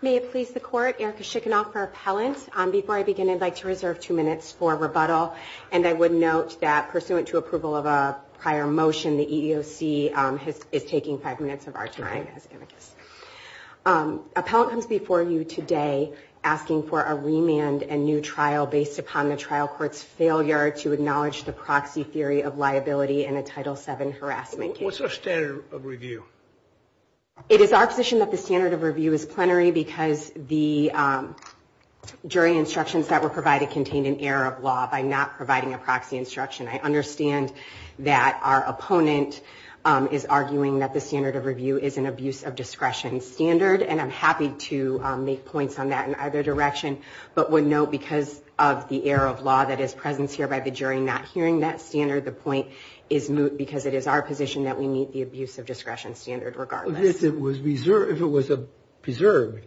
May it please the Court, Erica Schickinoff for Appellant. Before I begin I'd like to reserve two minutes for rebuttal and I would note that pursuant to approval of a prior motion the EEOC is taking five minutes of our time. Appellant comes before you today asking for a remand and new trial based upon the trial court's failure to acknowledge the proxy theory of liability in a Title VII harassment case. What's our standard of review? It is our position that the standard of review is plenary because the jury instructions that were provided contained an error of law by not providing a proxy instruction. I understand that our opponent is arguing that the standard of review is an abuse of discretion standard and I'm happy to make points on that in either direction but would note because of the error of law that is present here by the jury not hearing that standard the point is moot because it is our position that we meet the abuse of discretion standard regardless. If it was preserved,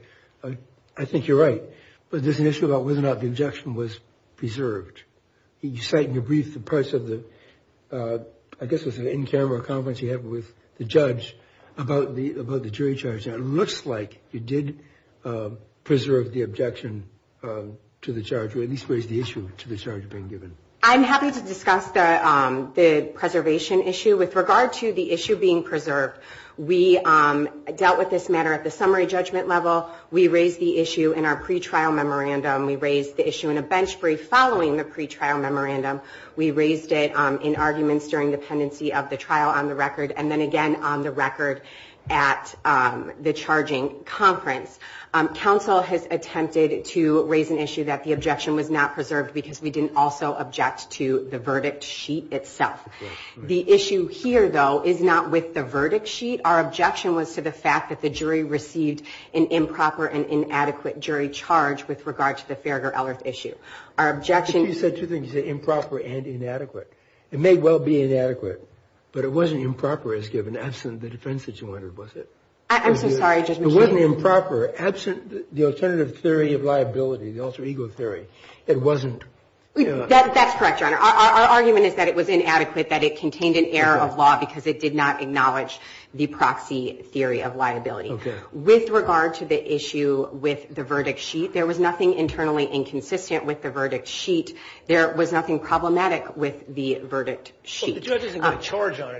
I think you're right, but there's an issue about whether or not the objection was preserved. Can you cite in your brief the parts of the, I guess it's an in-camera comment you have with the judge about the about the jury charge that it looks like you did preserve the objection to the charge or I'm happy to discuss the preservation issue with regard to the issue being preserved. We dealt with this matter at the summary judgment level. We raised the issue in our pretrial memorandum. We raised the issue in a bench brief following the pretrial memorandum. We raised it in arguments during the tendency of the trial on the record and then again on the record at the charging conference. Counsel has attempted to raise an issue that the objection was not preserved because we didn't also object to the verdict sheet itself. The issue here though is not with the verdict sheet. Our objection was to the fact that the jury received an improper and inadequate jury charge with regard to the Farragher-Ellis issue. Our objection... You said two things, improper and inadequate. It may well be inadequate but it wasn't improper as given the defense that you wanted, was it? I'm so sorry. It wasn't improper. That's the alternative theory of liability, the alter ego theory. It wasn't... That's correct, your honor. Our argument is that it was inadequate, that it contained an error of law because it did not acknowledge the proxy theory of liability. Okay. With regard to the issue with the verdict sheet, there was nothing internally inconsistent with the verdict sheet. There was nothing problematic with the verdict sheet, right?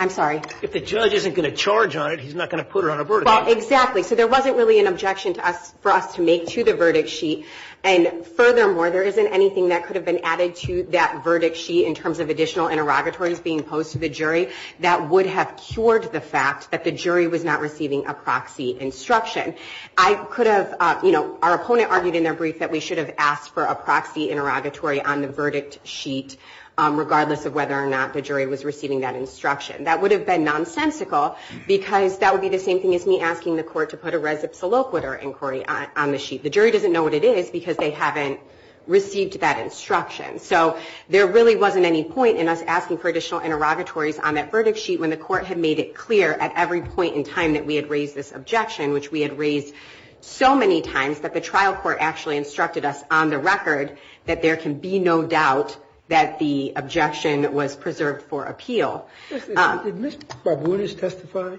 I'm sorry. If the judge isn't going to charge on it, he's not going to put it on a verdict sheet. Exactly. So there wasn't really an objection to us, for us to make to the verdict sheet and furthermore, there isn't anything that could have been added to that verdict sheet in terms of additional interrogatories being posed to the jury that would have cured the fact that the jury was not receiving a proxy instruction. I could have, you know, our opponent argued in their brief that we should have asked for a proxy interrogatory on the verdict sheet regardless of whether or not the jury was receiving that instruction. That would have been nonsensical because that would be the same thing as me asking the court to put a res absoluquitor inquiry on the sheet. The jury doesn't know what it is because they haven't received that instruction. So there really wasn't any point in us asking for additional interrogatories on that verdict sheet when the court had made it clear at every point in time that we had raised this objection, which we had raised so many times, but the trial court actually instructed us on the record that there can be no doubt that the objection was preserved for appeal. Did Ms. Barbunas testify?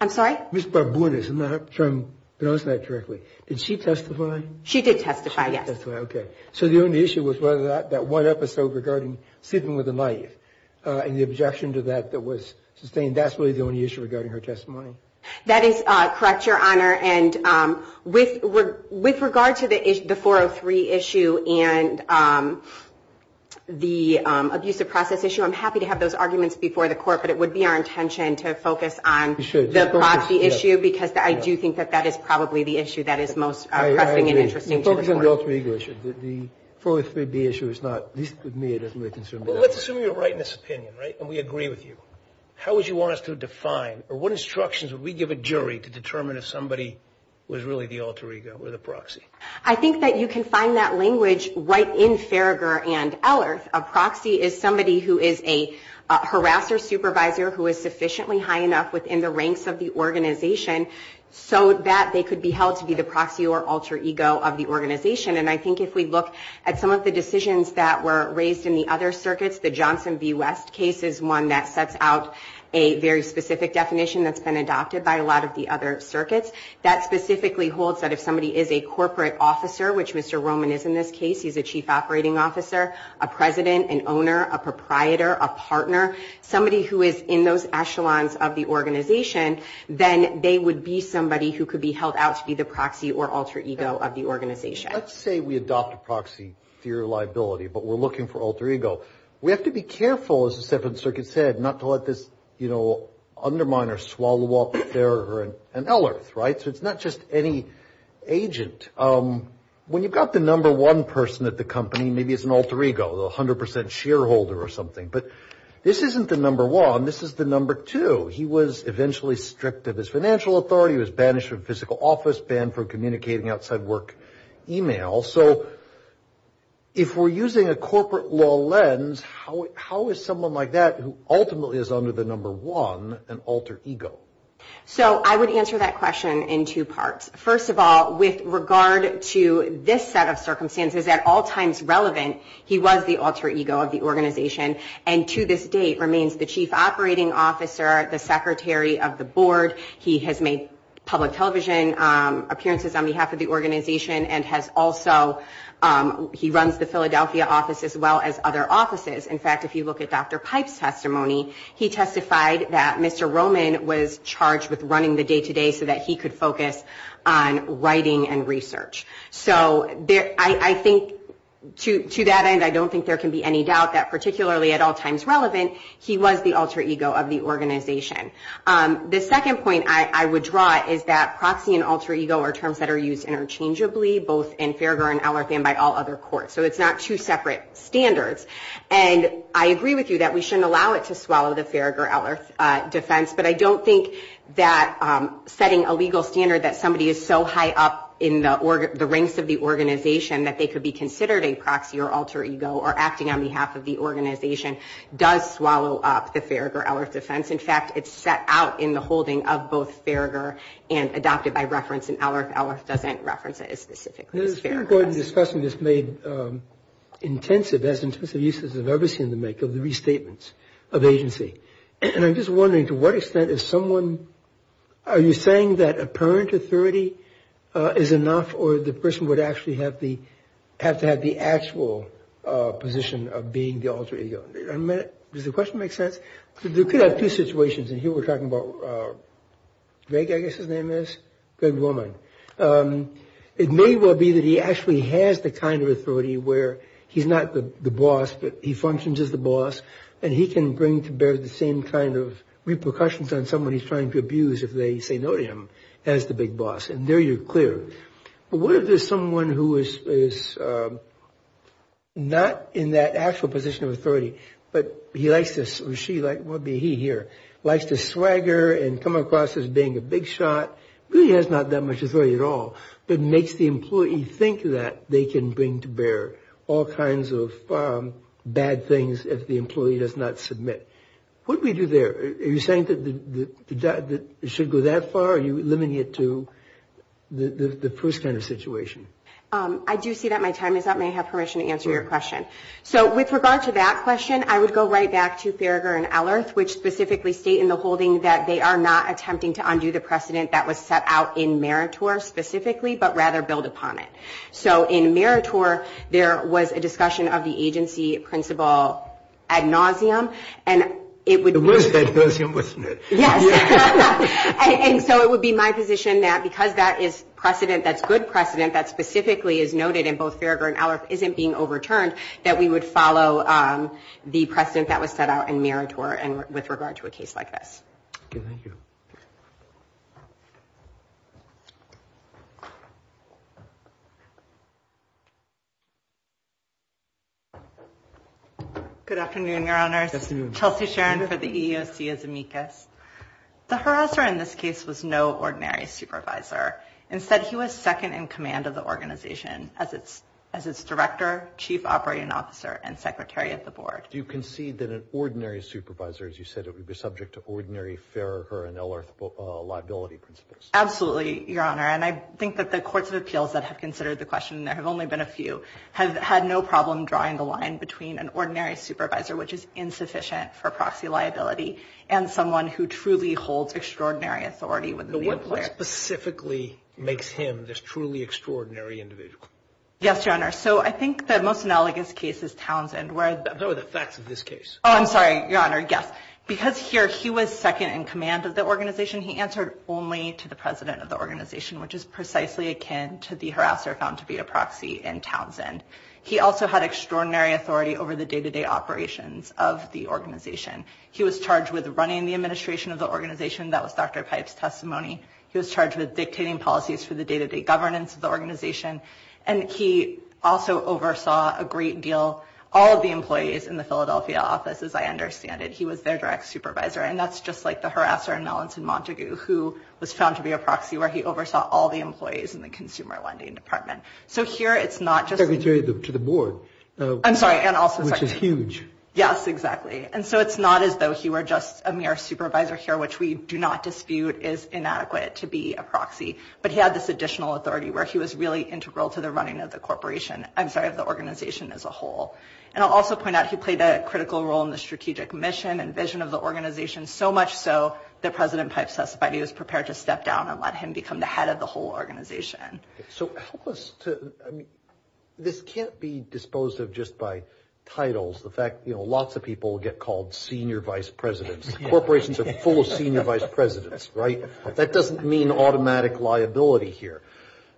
I'm sorry? Ms. Barbunas, I'm not sure I'm pronouncing that correctly. Did she testify? She did testify, yes. Okay, so the only issue was that one episode regarding sleeping with a knife and the objection to that that was sustained. That's really the only issue regarding her testimony? That is correct. With regard to the 403 issue and the abusive process issue, I'm happy to have those arguments before the court, but it would be our intention to focus on the proxy issue because I do think that that is probably the issue that is most pressing and interesting to the court. I agree. Focus on the alter ego issue. The 403B issue is not, at least with me, it doesn't really concern me. Well, let's assume you're right in this opinion, right, and we agree with you. How would you want us to define, or what instructions would we give a jury to determine if somebody was really the alter ego or the proxy? I think that you can find that language right in Farragher and Ehlers. A proxy is somebody who is a harasser supervisor who is sufficiently high enough within the ranks of the organization so that they could be held to be the proxy or alter ego of the organization, and I think if we look at some of the decisions that were raised in the other circuits, the Johnson v. West case is one that sets out a very specific definition that's been adopted by a lot of the other circuits. That specifically holds that if somebody is a corporate officer, which Mr. Roman is in this case, he's a chief operating officer, a president, an owner, a proprietor, a partner, somebody who is in those echelons of the organization, then they would be somebody who could be held out to be the proxy or alter ego of the organization. Let's say we adopt a proxy theory of liability, but we're looking for alter ego. We have to be careful, as the second circuit said, not to let this underminer swallow up Farragher and Ehlers, right, so it's not just any agent. When you've got the number one person at the company, maybe it's an alter ego, a 100% shareholder or something, but this isn't the number one, this is the number two. He was eventually stripped of his financial authority, was banished from physical office, banned from communicating outside work email, so if we're using a corporate law lens, how is someone like that, who ultimately is under the number one, an alter ego? I would answer that question in two parts. First of all, with regard to this set of circumstances, at all times relevant, he was the alter ego of the organization and to this date remains the chief operating officer, the secretary of the board, he has made public television appearances on behalf of the organization and has also, he runs the Philadelphia office as well as other offices. In fact, if you look at Dr. Pipe's testimony, he testified that Mr. Roman was charged with running the day-to-day so that he could focus on writing and research, so I think to that end, I don't think there can be any doubt that particularly at all times relevant, he was the alter ego of the organization. The second point I would draw is that proxy and alter ego are terms that are used interchangeably both in Farragher and Ellers and by all other courts, so it's not two separate standards and I agree with you that we shouldn't allow it to swallow the Farragher-Ellers defense, but I don't think that setting a legal standard that somebody is so high up in the ranks of the organization that they could be considered a proxy or alter ego or acting on behalf of the organization does swallow up the Farragher-Ellers defense. In fact, it's set out in the holding of both Farragher and adopted by reference and Ellers-Ellers doesn't reference it as specifically. I was going to go ahead and discuss something that's made intensive, that's in specific uses I've ever seen them make, of the restatements of agency, and I'm just wondering to what extent is someone, are you saying that apparent authority is enough or the person would actually have to have the actual position of being the alter ego? Does the question make sense? You could have two situations, and here we're talking about Greg, I guess his name is, Greg Roman. It may well be that he actually has the kind of authority where he's not the boss, but he functions as the boss and he can bring to bear the same kind of repercussions on someone he's trying to abuse if they say no to him as the big boss, and there you're clear. But what if there's someone who is not in that actual position of authority, but he likes this, or she likes, what would be he here, likes to swagger and come across as being a big shot, really has not that much authority at all, but makes the employee think that they can bring to bear all kinds of bad things if the employee does not submit. What do we do there? Are you saying that it should go that far, or are you limiting it to the first kind of situation? I do see that my time is up, may I have permission to answer your question? So with regard to that question, I would go right back to Theriger and Ehlers, which specifically state in the holding that they are not attempting to undo the precedent that was set out in Meritor specifically, but rather build upon it. So in Meritor, there was a discussion of the agency principle ad nauseum, and it would be my position that because that is precedent, that's good precedent, that specifically is noted in both Theriger and Ehlers isn't being overturned, that we would follow the precedent that was set out in Meritor with regard to a case like this. Okay, thank you. Good afternoon, Your Honor. Good afternoon. Chelsea Sharon for the EEOC as amicus. The harasser in this case was no ordinary supervisor. Instead, he was second in command of the organization as its director, chief operating officer, and secretary at the board. Do you concede that an ordinary supervisor, as you said, would be subject to ordinary Theriger and Ehlers liability principles? Absolutely, Your Honor, and I think that the courts of appeals that have considered the question, and there have only been a few, have had no problem drawing the line between an ordinary supervisor, which is insufficient for proxy liability, and someone who truly holds extraordinary authority within the employer. What specifically makes him this truly extraordinary individual? Yes, Your Honor. So I think the most analogous case is Townsend. No, the facts of this case. Oh, I'm sorry, Your Honor. Yes. Because here he was second in command of the organization, he answered only to the president of the organization, which is precisely akin to the harasser found to be a proxy in Townsend. He also had extraordinary authority over the day-to-day operations of the organization. He was charged with running the administration of the organization. That was Dr. Pipe's testimony. He was charged with dictating policies for the day-to-day governance of the organization. And he also oversaw a great deal, all of the employees in the Philadelphia office, as I understand it. He was their direct supervisor. And that's just like the harasser in Mellons in Montague, who was found to be a proxy, where he oversaw all the employees in the consumer lending department. So here it's not just— Secretary to the board. I'm sorry, and also— Which is huge. Yes, exactly. And so it's not as though he were just a mere supervisor here, which we do not dispute is inadequate to be a proxy. But he had this additional authority where he was really integral to the running of the corporation—I'm sorry, of the organization as a whole. And I'll also point out he played a critical role in the strategic mission and vision of the organization, so much so that President Pipe's testimony was prepared to step down and let him become the head of the whole organization. So help us to—I mean, this can't be disposed of just by titles. The fact—you know, lots of people get called senior vice presidents. Corporations are full of senior vice presidents, right? That doesn't mean automatic liability here.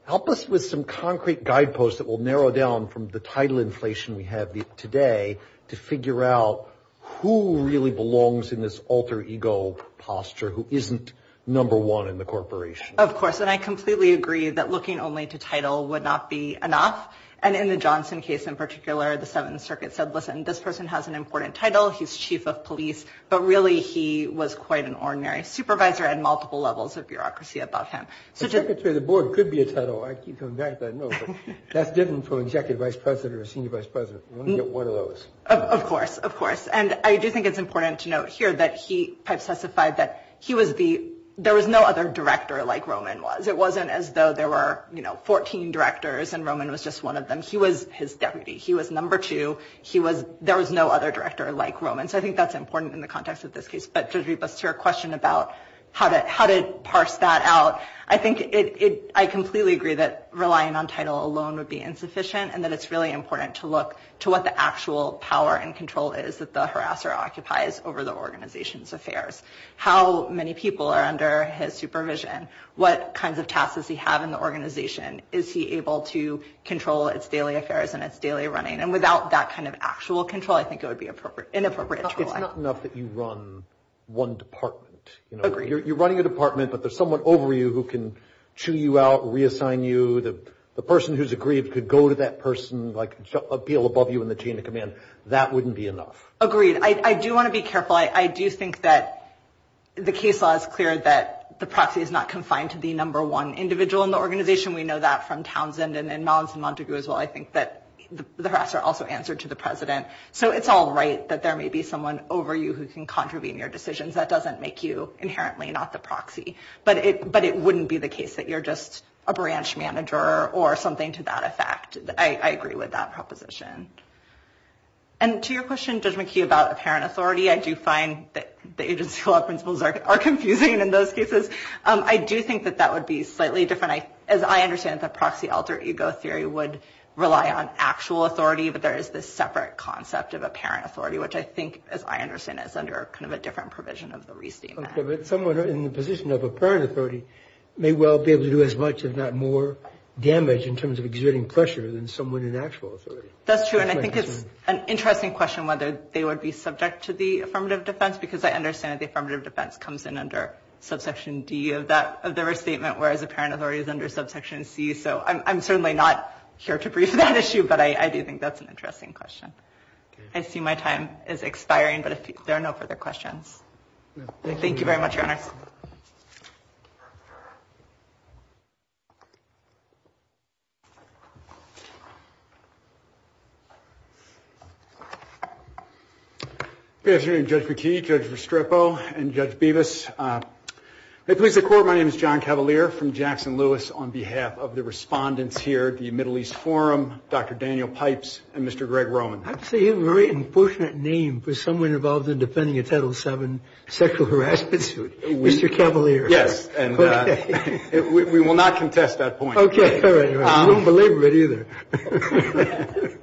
Help us with some concrete guideposts that will narrow down from the title inflation we have today to figure out who really belongs in this alter ego posture who isn't number one in the corporation. Of course, and I completely agree that looking only to title would not be enough. And in the Johnson case in particular, the Seventh Circuit said, listen, this person has an important title. He's chief of police. But really, he was quite an ordinary supervisor and multiple levels of bureaucracy above him. The secretary of the board could be a title. I keep coming back to that. No, but that's different from executive vice president or senior vice president. You want to get one of those. Of course. Of course. And I do think it's important to note here that he—Pipe testified that he was the—there was no other director like Roman was. It wasn't as though there were, you know, 14 directors and Roman was just one of them. He was his deputy. He was number two. He was—there was no other director like Roman. So, I think that's important in the context of this case. But to address your question about how to parse that out, I think it—I completely agree that relying on title alone would be insufficient and that it's really important to look to what the actual power and control is that the harasser occupies over the organization's affairs. How many people are under his supervision? What kinds of tasks does he have in the organization? Is he able to control its daily affairs and its daily running? And without that kind of actual control, I think it would be inappropriate. It's not enough that you run one department. You're running a department, but there's someone over you who can chew you out, reassign you. The person who's aggrieved could go to that person, like appeal above you in the chain of command. That wouldn't be enough. Agreed. I do want to be careful. I do think that the case law is clear that the proxy is not confined to the number one individual in the organization. We know that from Townsend and in Mons and Montague as well. I think that the harasser also answered to the president. So, it's all right that there may be someone over you who can contravene your decisions. That doesn't make you inherently not the proxy. But it wouldn't be the case that you're just a branch manager or something to that effect. I agree with that proposition. And to your question, Judge McKee, about apparent authority, I do find that the agency law principles are confusing in those cases. I do think that that would be slightly different. As I understand it, the proxy alter ego theory would rely on actual authority. But there is this separate concept of apparent authority, which I think, as I understand it, is under kind of a different provision of the re-theme act. Someone in the position of apparent authority may well be able to do as much, if not more, damage in terms of exerting pressure than someone in actual authority. That's true, and I think it's an interesting question whether they would be subject to the affirmative defense, because I understand that the affirmative defense comes in under subsection D of the restatement, whereas apparent authority is under subsection C. So, I'm certainly not here to brief on that issue, but I do think that's an interesting question. I see my time is expiring, but if there are no further questions. Thank you very much, Your Honor. Good afternoon, Judge McKee, Judge Vestrepo, and Judge Bevis. At least the court, my name is John Cavalier from Jackson-Lewis. On behalf of the respondents here at the Middle East Forum, Dr. Daniel Pipes and Mr. Greg Roman. I'd say you have a very unfortunate name for someone involved in defending a Title VII sexual harassment suit, Mr. Cavalier. Yes, and we will not contest that point. Okay, all right. I don't believe it either.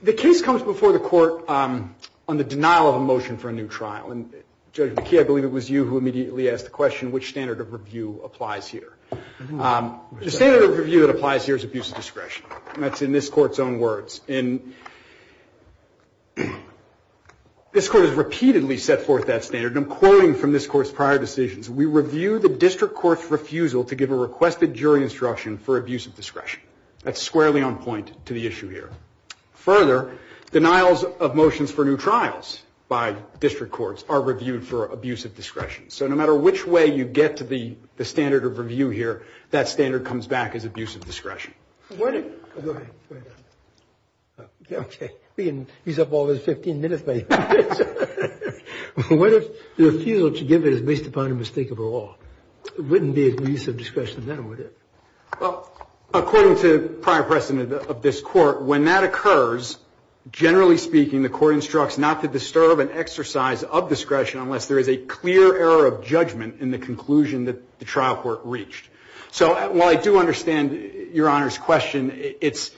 The case comes before the court on the denial of a motion for a new trial, and Judge McKee, I believe it was you who immediately asked the question which standard of review applies here. The standard of review that applies here is abuse of discretion. That's in this court's own words, and this court has repeatedly set forth that standard. I'm quoting from this court's prior decisions. We review the district court's refusal to give a requested jury instruction for abuse of discretion. That's squarely on point to the issue here. Further, denials of motions for new trials by district courts are reviewed for abuse of discretion. So no matter which way you get to the standard of review here, that standard comes back as abuse of discretion. What if... Okay, he's up all of the 15 minutes. What if the refusal to give it is based upon a mistake of the law? It wouldn't be abuse of discretion then, would it? Well, according to the prior precedent of this court, when that occurs, generally speaking, the court instructs not to disturb an exercise of discretion unless there is a clear error of judgment in the conclusion that the trial court reached. So while I do understand Your Honor's question, it's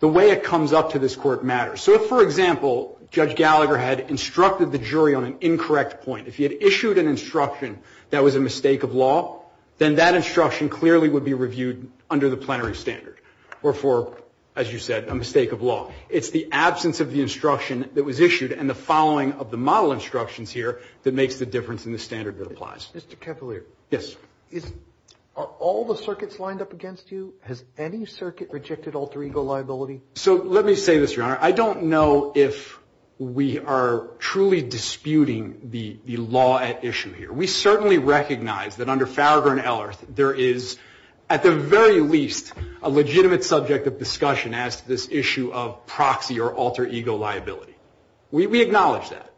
the way it comes up to this court matters. So if, for example, Judge Gallagher had instructed the jury on an incorrect point, if he had issued an instruction that was a mistake of law, then that instruction clearly would be reviewed under the plenary standard or for, as you said, a mistake of law. It's the absence of the instruction that was issued and the following of the model instructions here that makes the difference in the standard that applies. Mr. Cavaliere. Yes. Are all the circuits lined up against you? Has any circuit rejected alter ego liability? So let me say this, Your Honor. I don't know if we are truly disputing the law at issue here. We certainly recognize that under Farragher and Ellerth there is, at the very least, a legitimate subject of discussion as to this issue of proxy or alter ego liability. We acknowledge that.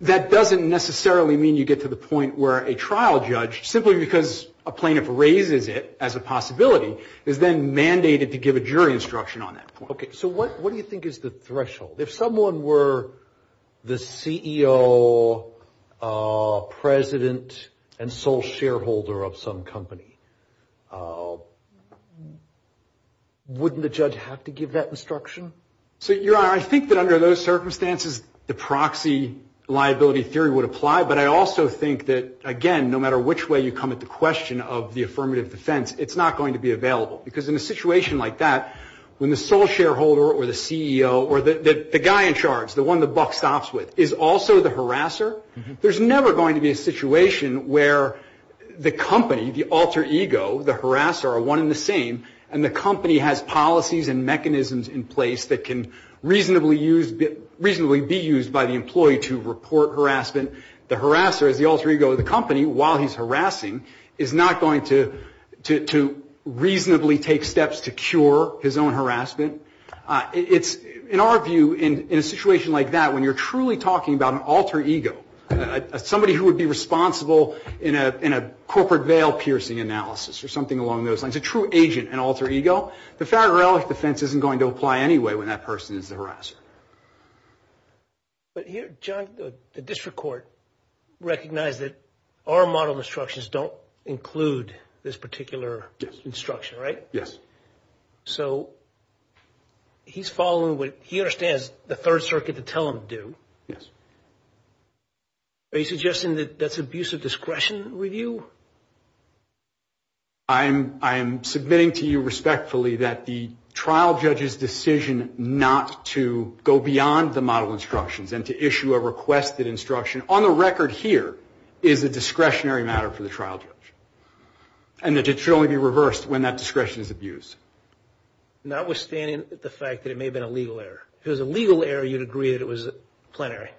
That doesn't necessarily mean you get to the point where a trial judge, simply because a plaintiff raises it as a possibility, is then mandated to give a jury instruction on that point. Okay. So what do you think is the threshold? If someone were the CEO, president, and sole shareholder of some company, wouldn't the judge have to give that instruction? So, Your Honor, I think that under those circumstances the proxy liability theory would apply, but I also think that, again, no matter which way you come at the question of the affirmative defense, it's not going to be available. Because in a situation like that, when the sole shareholder or the CEO or the guy in charge, the one the buck stops with, is also the harasser, there's never going to be a situation where the company, the alter ego, the harasser, are one and the same, and the company has policies and mechanisms in place that can reasonably be used by the employee to report harassment. The harasser, the alter ego of the company, while he's harassing, is not going to reasonably take steps to cure his own harassment. In our view, in a situation like that, when you're truly talking about an alter ego, somebody who would be responsible in a corporate veil piercing analysis or something along those lines, a true agent and alter ego, the federal defense isn't going to apply anyway when that person is the harasser. But here, John, the district court recognized that our model instructions don't include this particular instruction, right? Yes. So he's following what he understands the Third Circuit to tell him to do. Yes. Are you suggesting that that's abuse of discretion review? I'm submitting to you respectfully that the trial judge's decision not to go beyond the model instructions and to issue a requested instruction, on the record here, is a discretionary matter for the trial judge, and that it should only be reversed when that discretion is abused. Notwithstanding the fact that it may have been a legal error. If it was a legal error, you'd agree that it was plenary.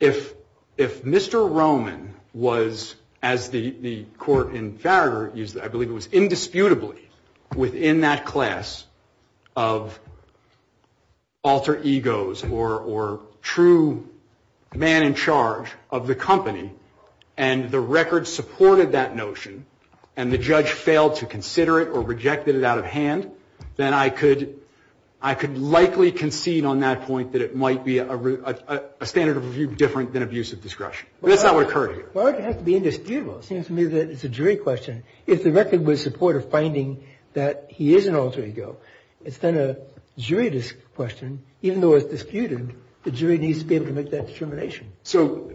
If Mr. Roman was, as the court in Farragher used it, I believe it was indisputably within that class of alter egos or true man in charge of the company, and the record supported that notion, and the judge failed to consider it or rejected it out of hand, then I could likely concede on that point that it might be a standard of review different than abuse of discretion. That's not what occurred here. Why would it have to be indisputable? It seems to me that it's a jury question. If the record was in support of finding that he is an alter ego, it's then a jury question. Even though it's disputed, the jury needs to be able to make that determination. So,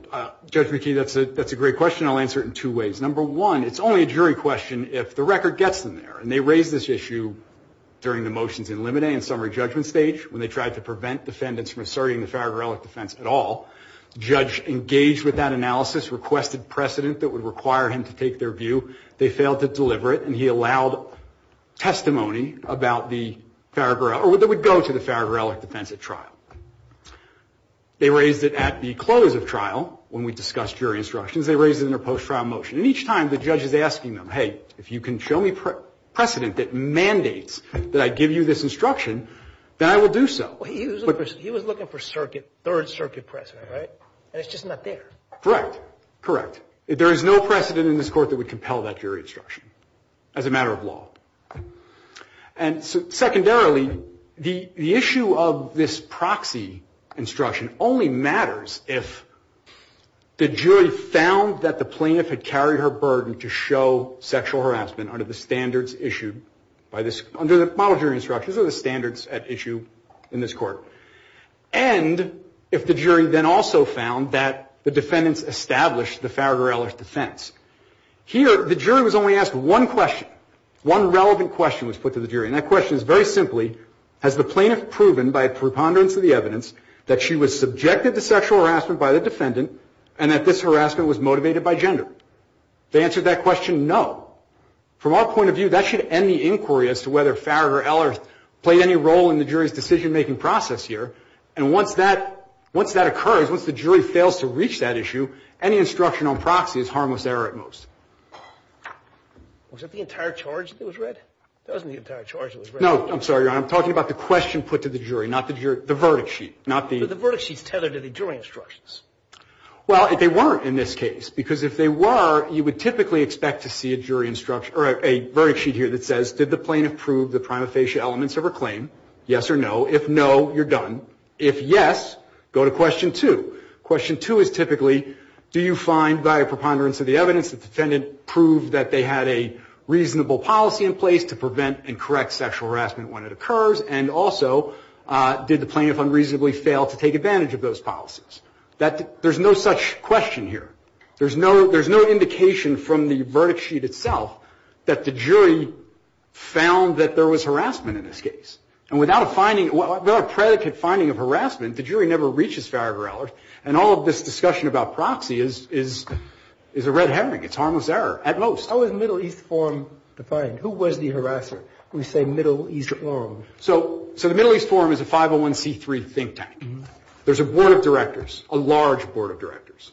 Judge McKee, that's a great question. I'll answer it in two ways. Number one, it's only a jury question if the record gets them there, and they raised this issue during the motions in Limine and summary judgment stage when they tried to prevent defendants from asserting the Farragher defense at all. The judge engaged with that analysis, requested precedent that would require him to take their view. They failed to deliver it, and he allowed testimony that would go to the Farragher defense at trial. They raised it at the close of trial when we discussed jury instructions. They raised it in their post-trial motion, and each time the judge is asking them, hey, if you can show me precedent that mandates that I give you this instruction, then I will do so. He was looking for third circuit precedent, right? And it's just not there. Correct. Correct. There is no precedent in this court that would compel that jury instruction as a matter of law. And secondarily, the issue of this proxy instruction only matters if the jury found that the plaintiff had carried her burden to show sexual harassment under the standards issued by this – under the model jury instructions or the standards at issue in this court, and if the jury then also found that the defendants established the Farragher-Ellers defense. Here, the jury was only asked one question, one relevant question was put to the jury, and that question is very simply, has the plaintiff proven by a preponderance of the evidence that she was subjected to sexual harassment by the defendant and that this harassment was motivated by gender? If they answered that question, no. From our point of view, that should end the inquiry as to whether Farragher-Ellers played any role in the jury's decision-making process here, and once that occurs, once the jury fails to reach that issue, any instruction on proxy is harmless error at most. Was that the entire charge that was read? That wasn't the entire charge that was read. No. I'm sorry, Your Honor. I'm talking about the question put to the jury, not the verdict sheet. The verdict sheet's tethered to the jury instructions. Well, if they weren't in this case, because if they were, you would typically expect to see a jury instruction – or a verdict sheet here that says, did the plaintiff prove the prima facie elements of her claim? Yes or no. If no, you're done. If yes, go to question two. Question two is typically, do you find by a preponderance of the evidence that the defendant proved that they had a reasonable policy in place to prevent and correct sexual harassment when it occurs? And also, did the plaintiff unreasonably fail to take advantage of those policies? There's no such question here. There's no indication from the verdict sheet itself that the jury found that there was harassment in this case. And without a predicate finding of harassment, the jury never reaches fair or error. And all of this discussion about proxy is a red herring. It's harmless error, at most. How is Middle East Forum defined? Who was the harasser when you say Middle East Forum? So the Middle East Forum is a 501c3 think tank. There's a board of directors, a large board of directors.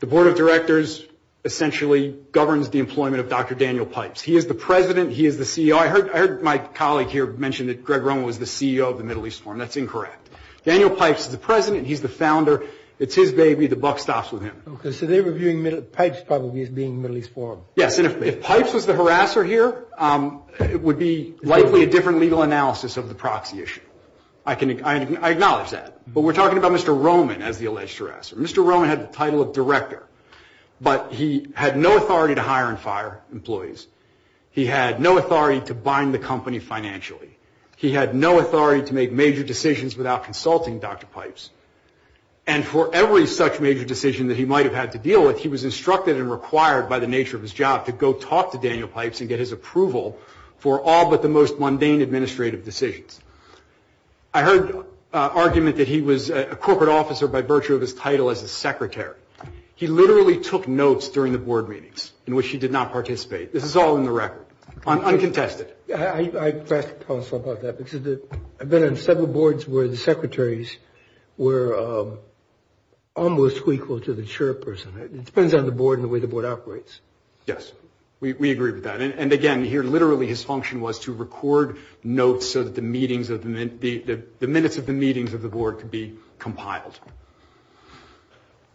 The board of directors essentially governs the employment of Dr. Daniel Pipes. He is the president. He is the CEO. I heard my colleague here mention that Greg Roman was the CEO of the Middle East Forum. That's incorrect. Daniel Pipes is the president. He's the founder. It's his baby. The buck stops with him. So they're reviewing Pipes probably as being Middle East Forum. Yes. If Pipes was the harasser here, it would be likely a different legal analysis of the proxy issue. I acknowledge that. But we're talking about Mr. Roman as the alleged harasser. Mr. Roman had the title of director. But he had no authority to hire and fire employees. He had no authority to bind the company financially. He had no authority to make major decisions without consulting Dr. Pipes. And for every such major decision that he might have had to deal with, he was instructed and required by the nature of his job to go talk to Daniel Pipes and get his approval for all but the most mundane administrative decisions. I heard an argument that he was a corporate officer by virtue of his title as a secretary. He literally took notes during the board meetings in which he did not participate. This is all in the record. Uncontested. I'd like to talk about that. I've been on several boards where the secretaries were almost equal to the chairperson. It depends on the board and the way the board operates. Yes. We agree with that. And, again, here literally his function was to record notes so that the minutes of the meetings of the board could be compiled.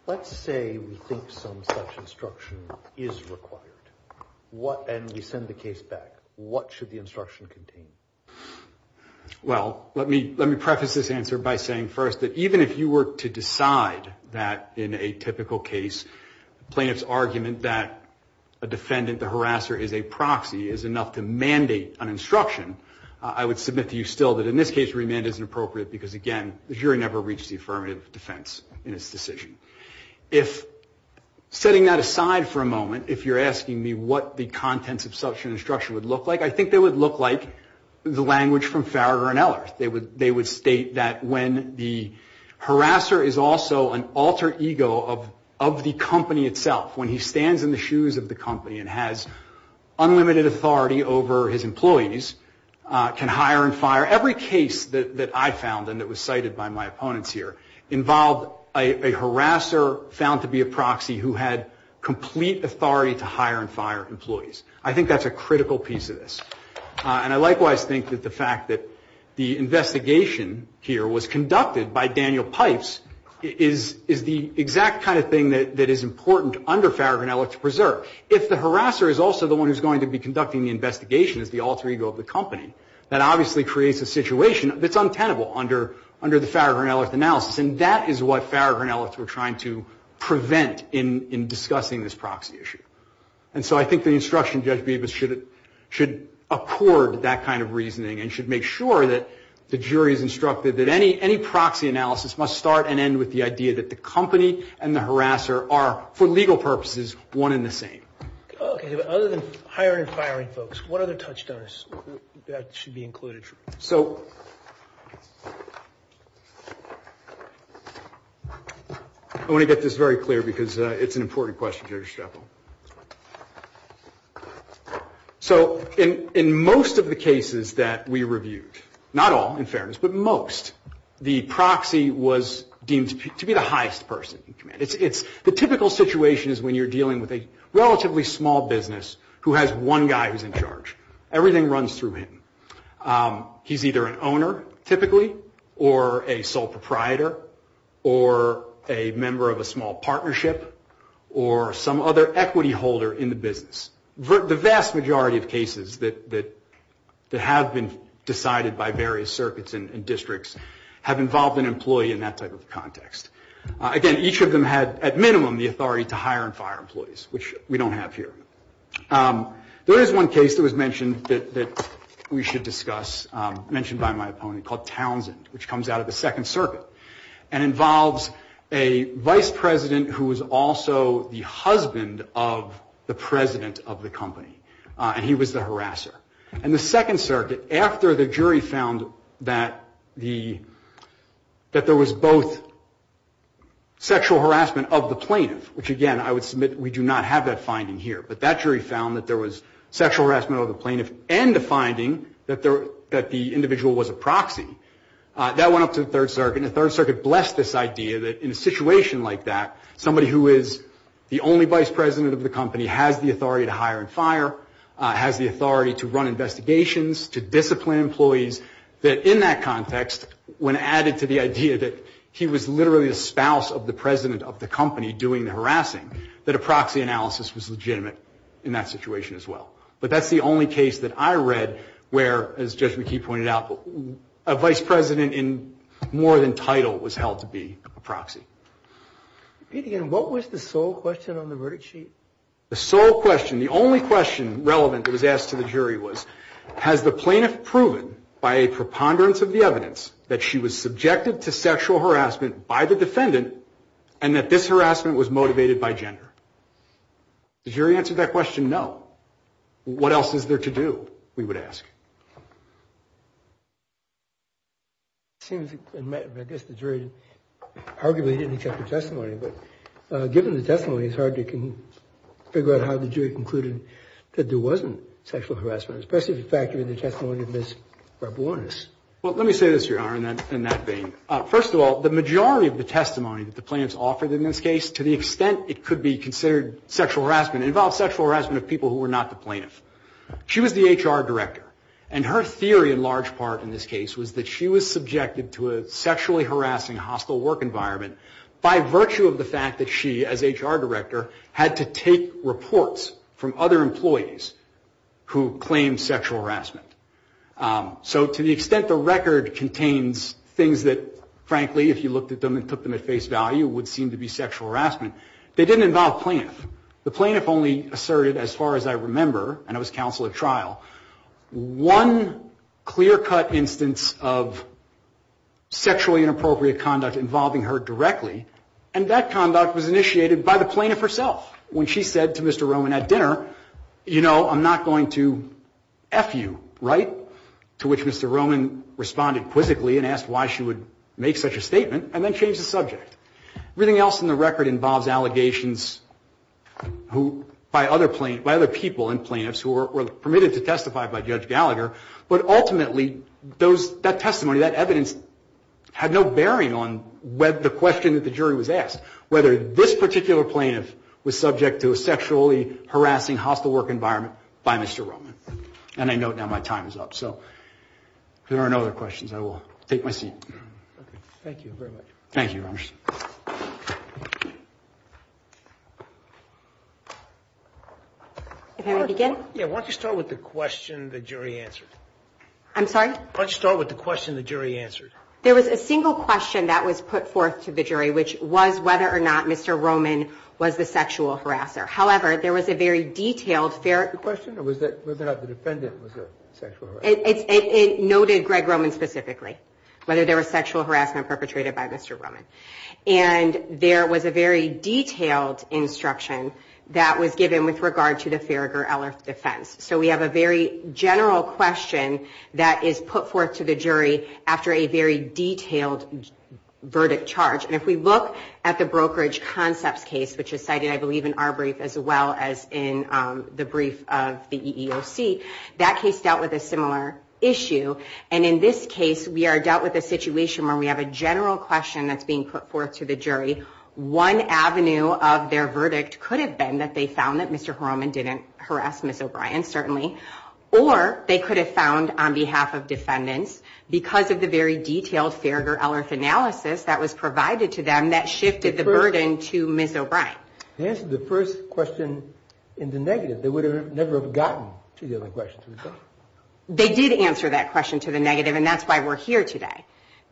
Let's say we think some such instruction is required and we send the case back. What should the instruction contain? Well, let me preface this answer by saying first that even if you were to decide that in a typical case, plaintiff's argument that a defendant, the harasser, is a proxy is enough to mandate an instruction, I would submit to you still that in this case remand isn't appropriate because, again, the jury never reached the affirmative defense in its decision. If setting that aside for a moment, if you're asking me what the contents of such an instruction would look like, I think they would look like the language from Farrar and Eller. They would state that when the harasser is also an alter ego of the company itself, when he stands in the shoes of the company and has unlimited authority over his employees, can hire and fire. Every case that I found, and it was cited by my opponents here, involved a harasser found to be a proxy who had complete authority to hire and fire employees. I think that's a critical piece of this. And I likewise think that the fact that the investigation here was conducted by Daniel Pipes is the exact kind of thing that is important under Farrar and Eller to preserve. If the harasser is also the one who's going to be conducting the investigation as the alter ego of the company, that obviously creates a situation that's untenable under the Farrar and Eller analysis, and that is what Farrar and Eller were trying to prevent in discussing this proxy issue. And so I think the instruction, Judge Meebus, should accord that kind of reasoning and should make sure that the jury is instructed that any proxy analysis must start and end with the idea that the company and the harasser are, for legal purposes, one and the same. Okay, but other than hiring and firing folks, what other touchstones should be included? So, I want to get this very clear because it's an important question, Judge Jekyll. So, in most of the cases that we reviewed, not all, in fairness, but most, the proxy was deemed to be the highest person in command. The typical situation is when you're dealing with a relatively small business who has one guy who's in charge. Everything runs through him. He's either an owner, typically, or a sole proprietor, or a member of a small partnership, or some other equity holder in the business. The vast majority of cases that have been decided by various circuits and districts have involved an employee in that type of context. Again, each of them had, at minimum, the authority to hire and fire employees, which we don't have here. There is one case that was mentioned that we should discuss, mentioned by my opponent, called Townsend, which comes out of the Second Circuit, and involves a vice president who is also the husband of the president of the company, and he was the harasser. In the Second Circuit, after the jury found that there was both sexual harassment of the plaintiff, which, again, I would submit we do not have that finding here, but that jury found that there was sexual harassment of the plaintiff and the finding that the individual was a proxy. That went up to the Third Circuit, and the Third Circuit blessed this idea that in a situation like that, somebody who is the only vice president of the company has the authority to hire and fire, has the authority to run investigations, to discipline employees, that in that context, when added to the idea that he was literally the spouse of the president of the company doing the harassing, that a proxy analysis was legitimate in that situation as well. But that's the only case that I read where, as Judge McKee pointed out, a vice president in more than title was held to be a proxy. Peter, what was the sole question on the verdict sheet? The sole question, the only question relevant that was asked to the jury was, has the plaintiff proven by a preponderance of the evidence that she was subjected to sexual harassment by the defendant and that this harassment was motivated by gender? The jury answered that question, no. What else is there to do, we would ask. It seems, I guess the jury arguably didn't get the testimony, but given the testimony, it's hard to figure out how the jury concluded that there wasn't sexual harassment, especially if you factor in the testimony of Ms. Barbonas. Well, let me say this, Your Honor, in that vein. First of all, the majority of the testimony that the plaintiffs offered in this case, to the extent it could be considered sexual harassment, involved sexual harassment of people who were not the plaintiffs. She was the HR director, and her theory in large part in this case was that she was subjected to a sexually harassing hospital work environment by virtue of the fact that she, as HR director, had to take reports from other employees who claimed sexual harassment. So to the extent the record contains things that, frankly, if you looked at them and put them at face value, would seem to be sexual harassment, they didn't involve plaintiffs. The plaintiff only asserted, as far as I remember, and I was counsel at trial, one clear-cut instance of sexually inappropriate conduct involving her directly, and that conduct was initiated by the plaintiff herself. When she said to Mr. Roman at dinner, you know, I'm not going to F you, right? To which Mr. Roman responded quizzically and asked why she would make such a statement and then changed the subject. Everything else in the record involves allegations by other people and plaintiffs who were permitted to testify by Judge Gallagher, but ultimately that testimony, that evidence, had no bearing on the question that the jury was asked, whether this particular plaintiff was subject to a sexually harassing hospital work environment by Mr. Roman. And I note now my time is up, so if there are no other questions, I will take my seat. Thank you very much. Thank you, Your Honor. If I may begin? Yeah, why don't you start with the question the jury answered. I'm sorry? Why don't you start with the question the jury answered. There was a single question that was put forth to the jury, which was whether or not Mr. Roman was the sexual harasser. However, there was a very detailed fair question. Was it whether or not the defendant was a sexual harasser? It noted Greg Roman specifically, whether there was sexual harassment perpetrated by Mr. Roman. And there was a very detailed instruction that was given with regard to the Farragher-Ellis defense. So we have a very general question that is put forth to the jury after a very detailed verdict charge. And if we look at the brokerage concept case, which is cited, I believe, in our brief as well as in the brief of the EEOC, that case dealt with a similar issue. And in this case, we are dealt with a situation where we have a general question that's being put forth to the jury. One avenue of their verdict could have been that they found that Mr. Roman was a sexual harasser, or they could have found on behalf of defendants because of the very detailed Farragher-Ellis analysis that was provided to them that shifted the burden to Ms. O'Brien. They answered the first question in the negative. They would never have gotten to the other question. They did answer that question to the negative, and that's why we're here today.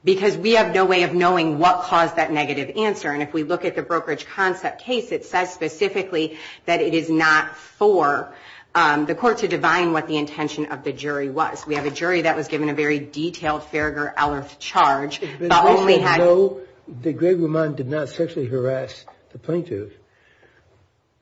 Because we have no way of knowing what caused that negative answer. And if we look at the brokerage concept case, it says specifically that it is not for the court to divine what the intention of the jury was. We have a jury that was given a very detailed Farragher-Ellis charge, but only had- If you know that Greg Roman did not sexually harass the plaintiff,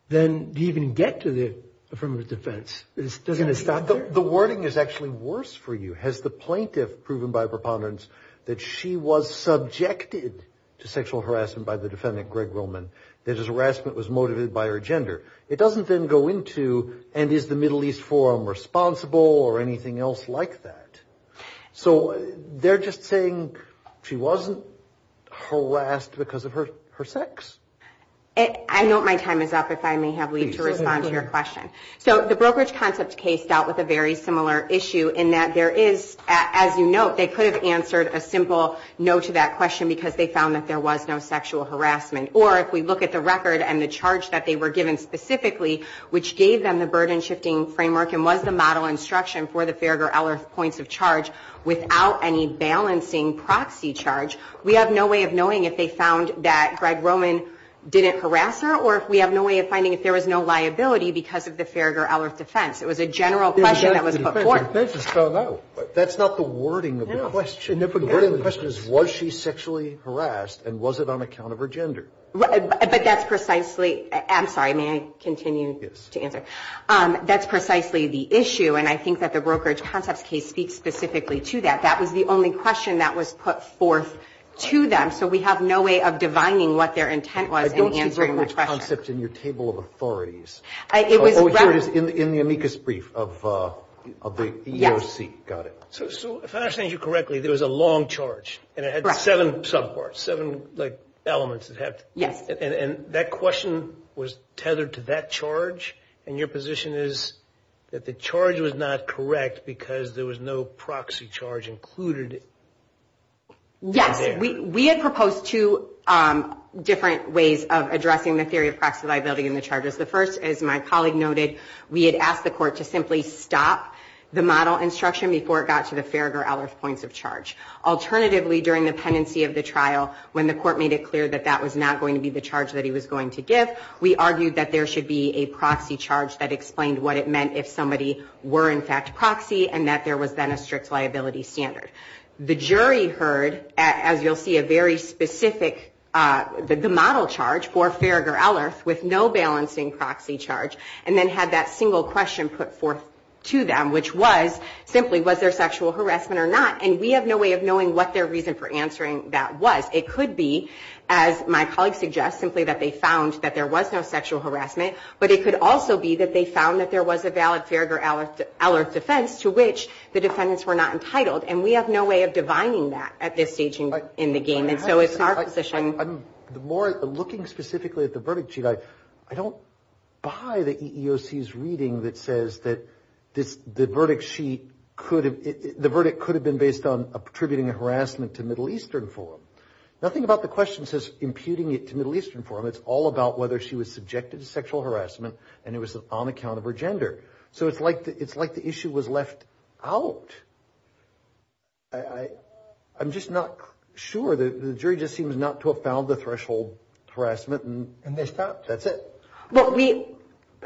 then do you even get to the affirmative defense? The wording is actually worse for you. Has the plaintiff proven by preponderance that she was subjected to sexual harassment by the defendant, Greg Roman? That his harassment was motivated by her gender? It doesn't then go into, and is the Middle East Forum responsible or anything else like that? So they're just saying she wasn't harassed because of her sex. I know my time is up, if I may have to respond to your question. So the brokerage concept case dealt with a very similar issue, in that there is, as you note, they could have answered a simple no to that question, because they found that there was no sexual harassment. Or if we look at the record and the charge that they were given specifically, which gave them the burden shifting framework, and was the model instruction for the Farragher-Ellis points of charge, without any balancing proxy charge, we have no way of knowing if they found that Greg Roman didn't harass her, or we have no way of finding if there was no liability because of the Farragher-Ellis defense. It was a general question that was put forth. That's not the wording of the question. The wording of the question is, was she sexually harassed, and was it on account of her gender? But that's precisely, I'm sorry, may I continue to answer? That's precisely the issue, and I think that the brokerage concept case speaks specifically to that. That was the only question that was put forth to them, so we have no way of defining what their intent was in answering the question. I don't think that's in your table of authorities. Oh, here it is in the amicus brief of the EEOC, got it. So if I understand you correctly, there was a long charge, and it had seven subparts, seven elements. Yes. And that question was tethered to that charge, and your position is that the charge was not correct because there was no proxy charge included? Yes. We had proposed two different ways of addressing the theory of proxy liability in the charges. The first, as my colleague noted, we had asked the court to simply stop the model instruction before it got to the Farragher-Ellis points of charge. Alternatively, during the pendency of the trial, when the court made it clear that that was not going to be the charge that he was going to give, we argued that there should be a proxy charge that explained what it meant if somebody were, in fact, proxy, and that there was then a strict liability standard. The jury heard, as you'll see, a very specific, the model charge for Farragher-Ellis with no balancing proxy charge, and then had that single question put forth to them, which was simply was there sexual harassment or not, and we have no way of knowing what their reason for answering that was. It could be, as my colleague suggests, simply that they found that there was no sexual harassment, but it could also be that they found that there was a valid Farragher-Ellis defense to which the defendants were not entitled, and we have no way of defining that at this stage in the game, and so it's in our position. I'm looking specifically at the verdict sheet. I don't buy the EEOC's reading that says that the verdict could have been based on attributing harassment to Middle Eastern forum. Nothing about the question says imputing it to Middle Eastern forum. It's all about whether she was subjected to sexual harassment, and it was on account of her gender. So it's like the issue was left out. I'm just not sure. The jury just seems not to have found the threshold harassment, and they stopped. That's it.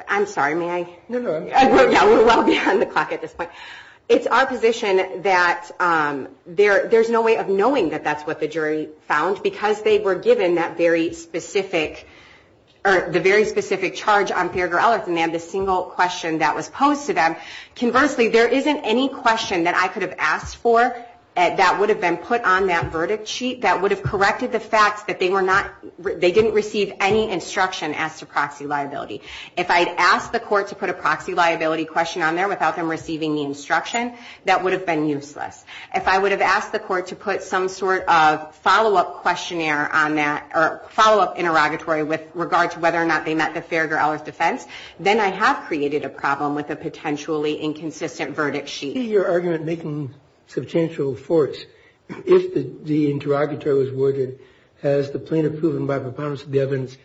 I'm sorry. May I? No, no. We're well beyond the clock at this point. It's our position that there's no way of knowing that that's what the jury found because they were given the very specific charge on Farragher-Ellis, and they had a single question that was posed to them. Conversely, there isn't any question that I could have asked for that would have been put on that verdict sheet that would have corrected the fact that they didn't receive any instruction as to proxy liability. If I had asked the court to put a proxy liability question on there without them receiving the instruction, that would have been useless. If I would have asked the court to put some sort of follow-up interrogatory with regard to whether or not they met the Farragher-Ellis defense, then I have created a problem with a potentially inconsistent verdict sheet. In your argument, making potential force, if the interrogatory was worded as the plaintiff proving by proponents of the case,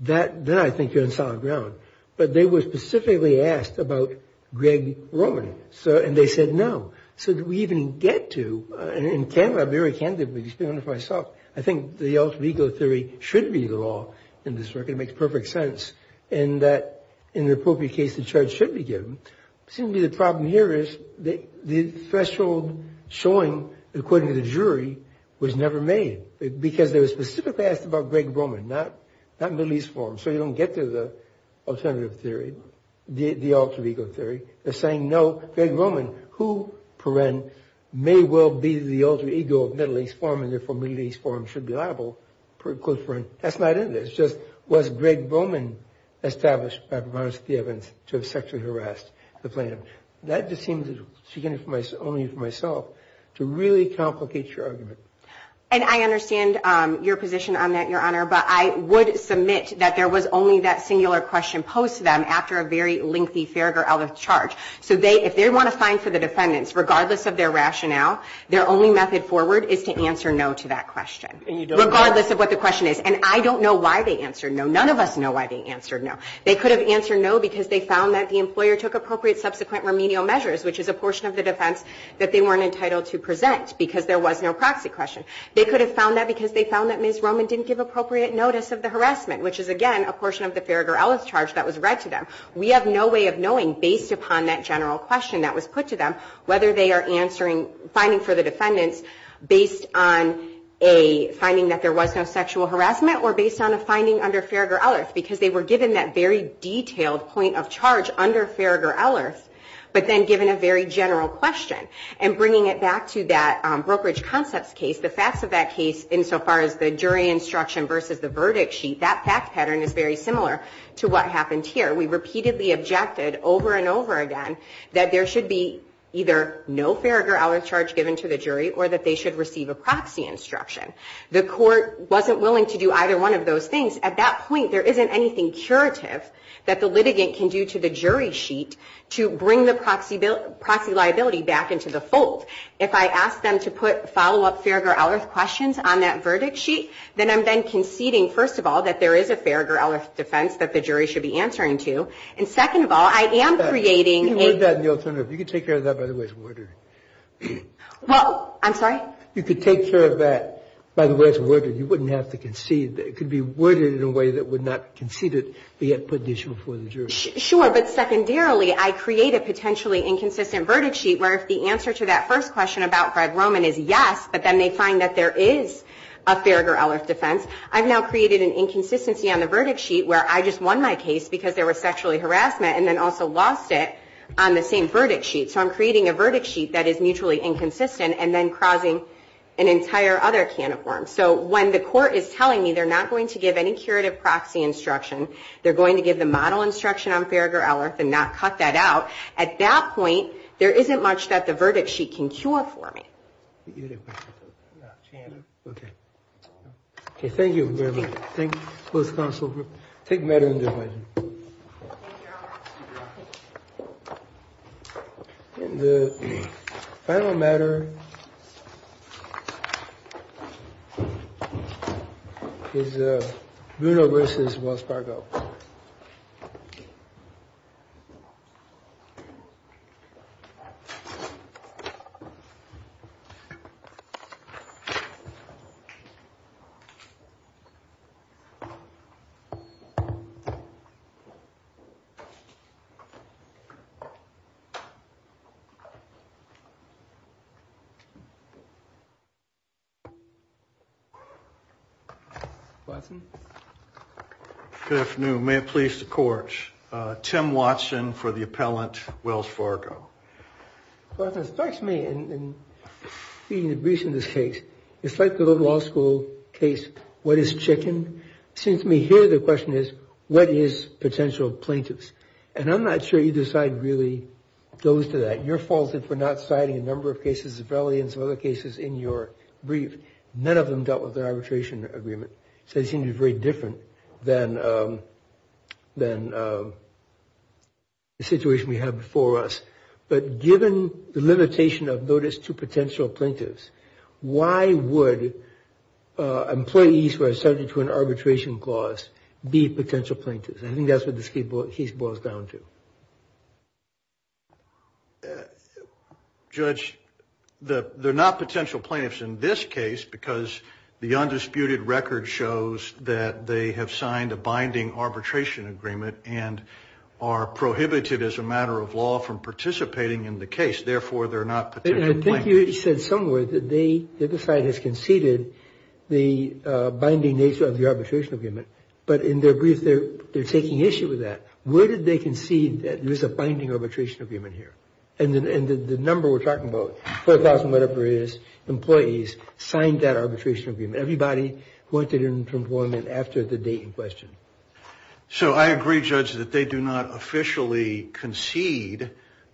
then I think you're on solid ground. But they were specifically asked about Greg Roman, and they said no. So did we even get to? In Canada, very candidly, just being honest with myself, I think the Elf legal theory should be the law in this circuit. It makes perfect sense in that, in the appropriate case, the charge should be given. It seems to me the problem here is the threshold showing, according to the jury, was never made because they were specifically asked about Greg Roman, not Middle East Forum. So you don't get to the alternative theory, the Elf legal theory. They're saying, no, Greg Roman, who, per-en, may well be the alter ego of Middle East Forum, and therefore Middle East Forum should be liable, per-en. That's not it. It's just was Greg Roman established by proponents of the evidence to have sexually harassed the plaintiff? That just seems, again, only for myself, to really complicate your argument. And I understand your position on that, Your Honor. But I would submit that there was only that singular question posed to them after a very lengthy Farragher-Ellis charge. So if they want a fine for the defendants, regardless of their rationale, their only method forward is to answer no to that question, regardless of what the question is. And I don't know why they answered no. None of us know why they answered no. They could have answered no because they found that the employer took appropriate subsequent remedial measures, which is a portion of the defense that they weren't entitled to present because there was no proxy question. They could have found that because they found that Ms. Roman didn't give appropriate notice of the harassment, which is, again, a portion of the Farragher-Ellis charge that was read to them. We have no way of knowing, based upon that general question that was put to them, whether they are finding for the defendants based on a finding that there was no sexual harassment or based on a finding under Farragher-Ellis, because they were given that very detailed point of charge under Farragher-Ellis but then given a very general question. And bringing it back to that brokerage concepts case, the facts of that case insofar as the jury instruction versus the verdict sheet, that fact pattern is very similar to what happens here. We repeatedly objected over and over again that there should be either no Farragher-Ellis charge given to the jury or that they should receive a proxy instruction. The court wasn't willing to do either one of those things. At that point, there isn't anything curative that the litigant can do to the jury sheet to bring the proxy liability back into the fold. If I ask them to put follow-up Farragher-Ellis questions on that verdict sheet, then I'm then conceding, first of all, that there is a Farragher-Ellis defense that the jury should be answering to. And second of all, I am creating a... You could take care of that by the way it's worded. Well, I'm sorry? You could take care of that by the way it's worded. You wouldn't have to concede. It could be worded in a way that would not concede it, but yet put the issue before the jury. Sure, but secondarily, I create a potentially inconsistent verdict sheet where if the answer to that first question about Fred Roman is yes, but then they find that there is a Farragher-Ellis defense, I've now created an inconsistency on the verdict sheet where I just won my case because there was sexually harassment and then also lost it on the same verdict sheet. So I'm creating a verdict sheet that is mutually inconsistent and then causing an entire other can of worms. So when the court is telling me they're not going to give any curative proxy instruction, they're going to give the model instruction on Farragher-Ellis and not cut that out, at that point, there isn't much that the verdict sheet can cure for me. Okay, thank you very much. Thank you both counsel for... Thank you. And the final matter is Bruno versus Wells Fargo. Good afternoon. May it please the court. Tim Watson for the appellant, Wells Fargo. Well, it strikes me in seeing the briefs in this case, it's like the law school case, what is chicken? It seems to me here the question is, what is chicken? Well, the question is, what is chicken? Notice to potential plaintiffs. And I'm not sure either side really goes to that. You're faulted for not citing a number of cases, rebellions and other cases in your brief. None of them dealt with the arbitration agreement. So it seems very different than the situation we had before us. But given the limitation of notice to potential plaintiffs, why would employees who are subject to an arbitration clause be potential plaintiffs? I think that's what this case boils down to. Judge, they're not potential plaintiffs in this case because the undisputed record shows that they have signed a binding arbitration agreement and are prohibited as a matter of law from participating in the case. Therefore, they're not potential plaintiffs. I think you said somewhere that this side has conceded the binding nature of the arbitration agreement. But in their brief, they're taking issue with that. Where did they concede that there's a binding arbitration agreement here? And the number we're talking about, 4,000 whatever it is, employees signed that arbitration agreement. Everybody wanted an employment after the date in question. So I agree, Judge, that they do not officially concede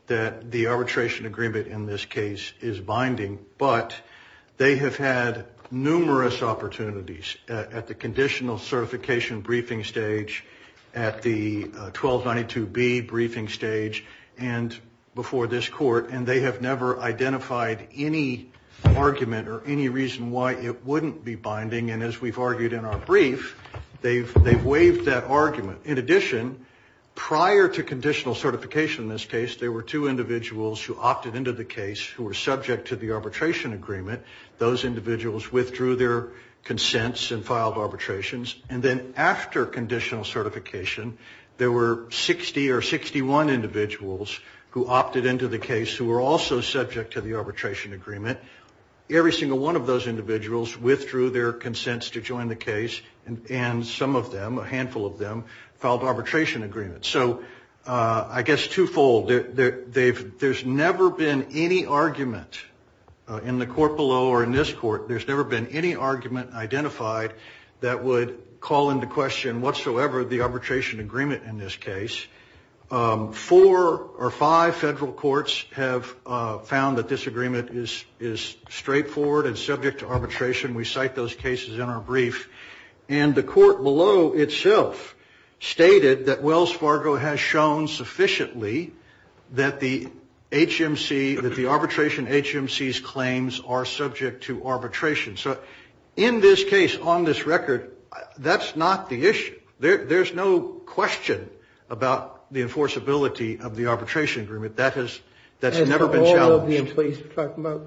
that the arbitration agreement in this case is binding. But they have had numerous opportunities at the conditional certification briefing stage, at the 1292B briefing stage, and before this court. And they have never identified any argument or any reason why it wouldn't be binding. And as we've argued in our brief, they've waived that argument. In addition, prior to conditional certification in this case, there were two individuals who opted into the case who were subject to the arbitration agreement. Those individuals withdrew their consents and filed arbitrations. And then after conditional certification, there were 60 or 61 individuals who opted into the case who were also subject to the arbitration agreement. And every single one of those individuals withdrew their consents to join the case. And some of them, a handful of them, filed arbitration agreements. So I guess twofold, there's never been any argument in the court below or in this court, there's never been any argument identified that would call into question whatsoever the arbitration agreement in this case. Four or five federal courts have found that this agreement is straightforward and subject to arbitration. We cite those cases in our brief. And the court below itself stated that Wells Fargo has shown sufficiently that the arbitration HMC's claims are subject to arbitration. So in this case, on this record, that's not the issue. There's no question about the enforceability of the arbitration agreement. That has never been challenged. And for all of the employees, you're talking about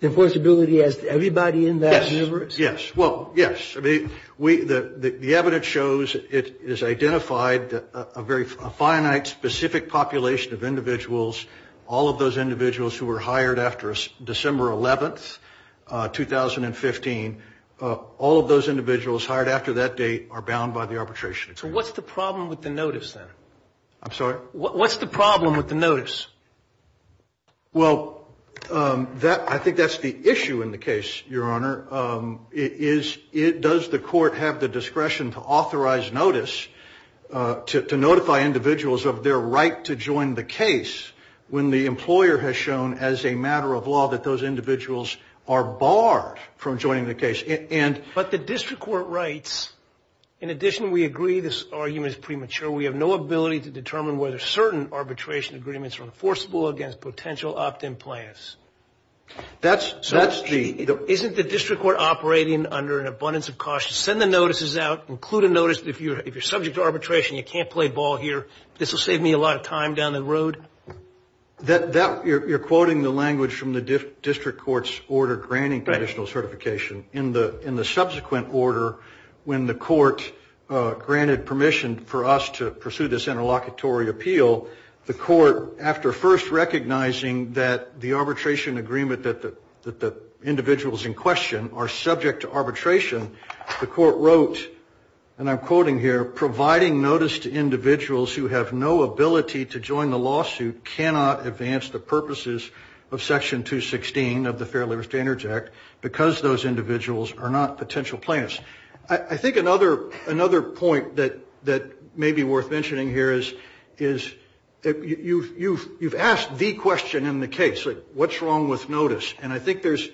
the enforceability as everybody in that universe? Yes. Well, yes. The evidence shows it is identified a very finite, specific population of individuals. All of those individuals who were hired after December 11, 2015, all of those individuals hired after that date are bound by the arbitration agreement. So what's the problem with the notice, then? I'm sorry? What's the problem with the notice? Well, I think that's the issue in the case, Your Honor. Does the court have the discretion to authorize notice, to notify individuals of their right to join the case, when the employer has shown as a matter of law that those individuals are barred from joining the case? But the district court writes, in addition, we agree this argument is premature. We have no ability to determine whether certain arbitration agreements are enforceable against potential opt-in plans. That's G. Isn't the district court operating under an abundance of caution? Send the notices out. Include a notice that if you're subject to arbitration, you can't play ball here. This will save me a lot of time down the road. You're quoting the language from the district court's order granting conditional certification. In the subsequent order, when the court granted permission for us to pursue this interlocutory appeal, the court, after first recognizing that the arbitration agreement that the individuals in question are subject to arbitration, the court wrote, and I'm quoting here, providing notice to individuals who have no ability to join the lawsuit cannot advance the purposes of Section 216 of the Fair Labor Standards Act because those individuals are not potential plans. I think another point that may be worth mentioning here is you've asked the question in the case, what's wrong with notice? And I think that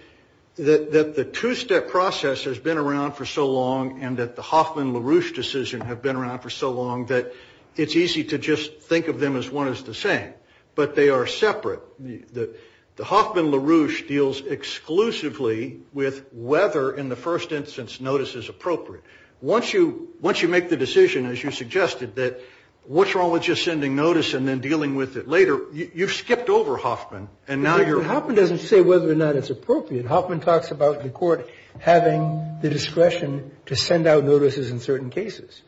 the two-step process has been around for so long and that the Hoffman-LaRouche decision have been around for so long that it's easy to just think of them as one is the same. But they are separate. The Hoffman-LaRouche deals exclusively with whether, in the first instance, notice is appropriate. Once you make the decision, as you suggested, that what's wrong with just sending notice and then dealing with it later, you've skipped over Hoffman. Hoffman doesn't say whether or not it's appropriate. Hoffman talks about the court having the discretion to send out notices in certain cases.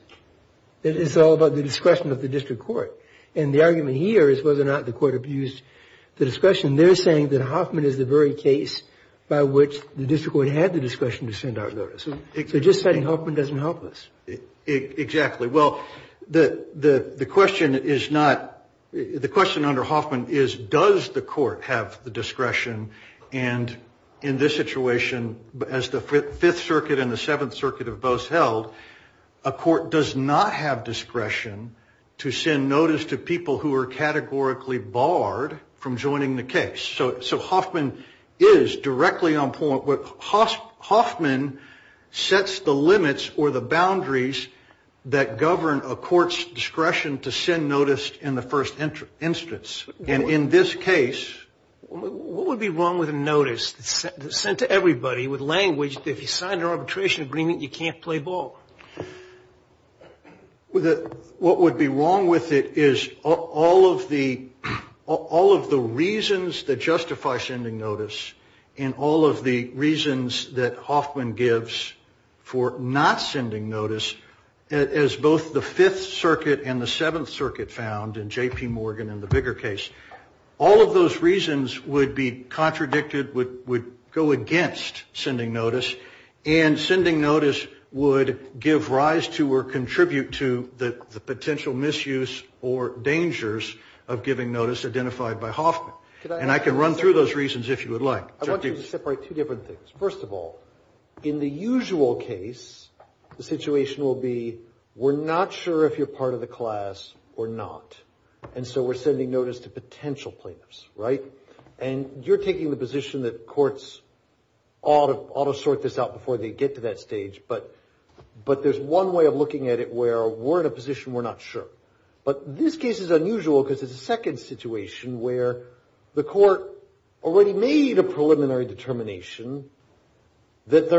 It's all about the discretion of the district court. And the argument here is whether or not the court abused the discretion. They're saying that Hoffman is the very case by which the district court had the discretion to send out notices. So just saying Hoffman doesn't help us. Exactly. Well, the question under Hoffman is, does the court have the discretion? And in this situation, as the Fifth Circuit and the Seventh Circuit have both held, a court does not have discretion to send notice to people who are categorically barred from joining the case. So Hoffman is directly on point. Hoffman sets the limits or the boundaries that govern a court's discretion to send notice in the first instance. And in this case... What would be wrong with a notice sent to everybody with language that if you sign an arbitration agreement, you can't play ball? What would be wrong with it is all of the reasons that justify sending notice and all of the reasons that Hoffman gives for not sending notice, as both the Fifth Circuit and the Seventh Circuit found in J.P. Morgan and the bigger case, all of those reasons would be contradicted, would go against sending notice, and sending notice would give rise to or contribute to the potential misuse or dangers of giving notice identified by Hoffman. And I can run through those reasons if you would like. I want you to separate two different things. First of all, in the usual case, the situation will be, we're not sure if you're part of the class or not, and so we're sending notice to potential players, right? And you're taking the position that courts ought to sort this out before they get to that stage, but there's one way of looking at it where we're in a position we're not sure. But this case is unusual because it's a second situation where the court already made a preliminary determination that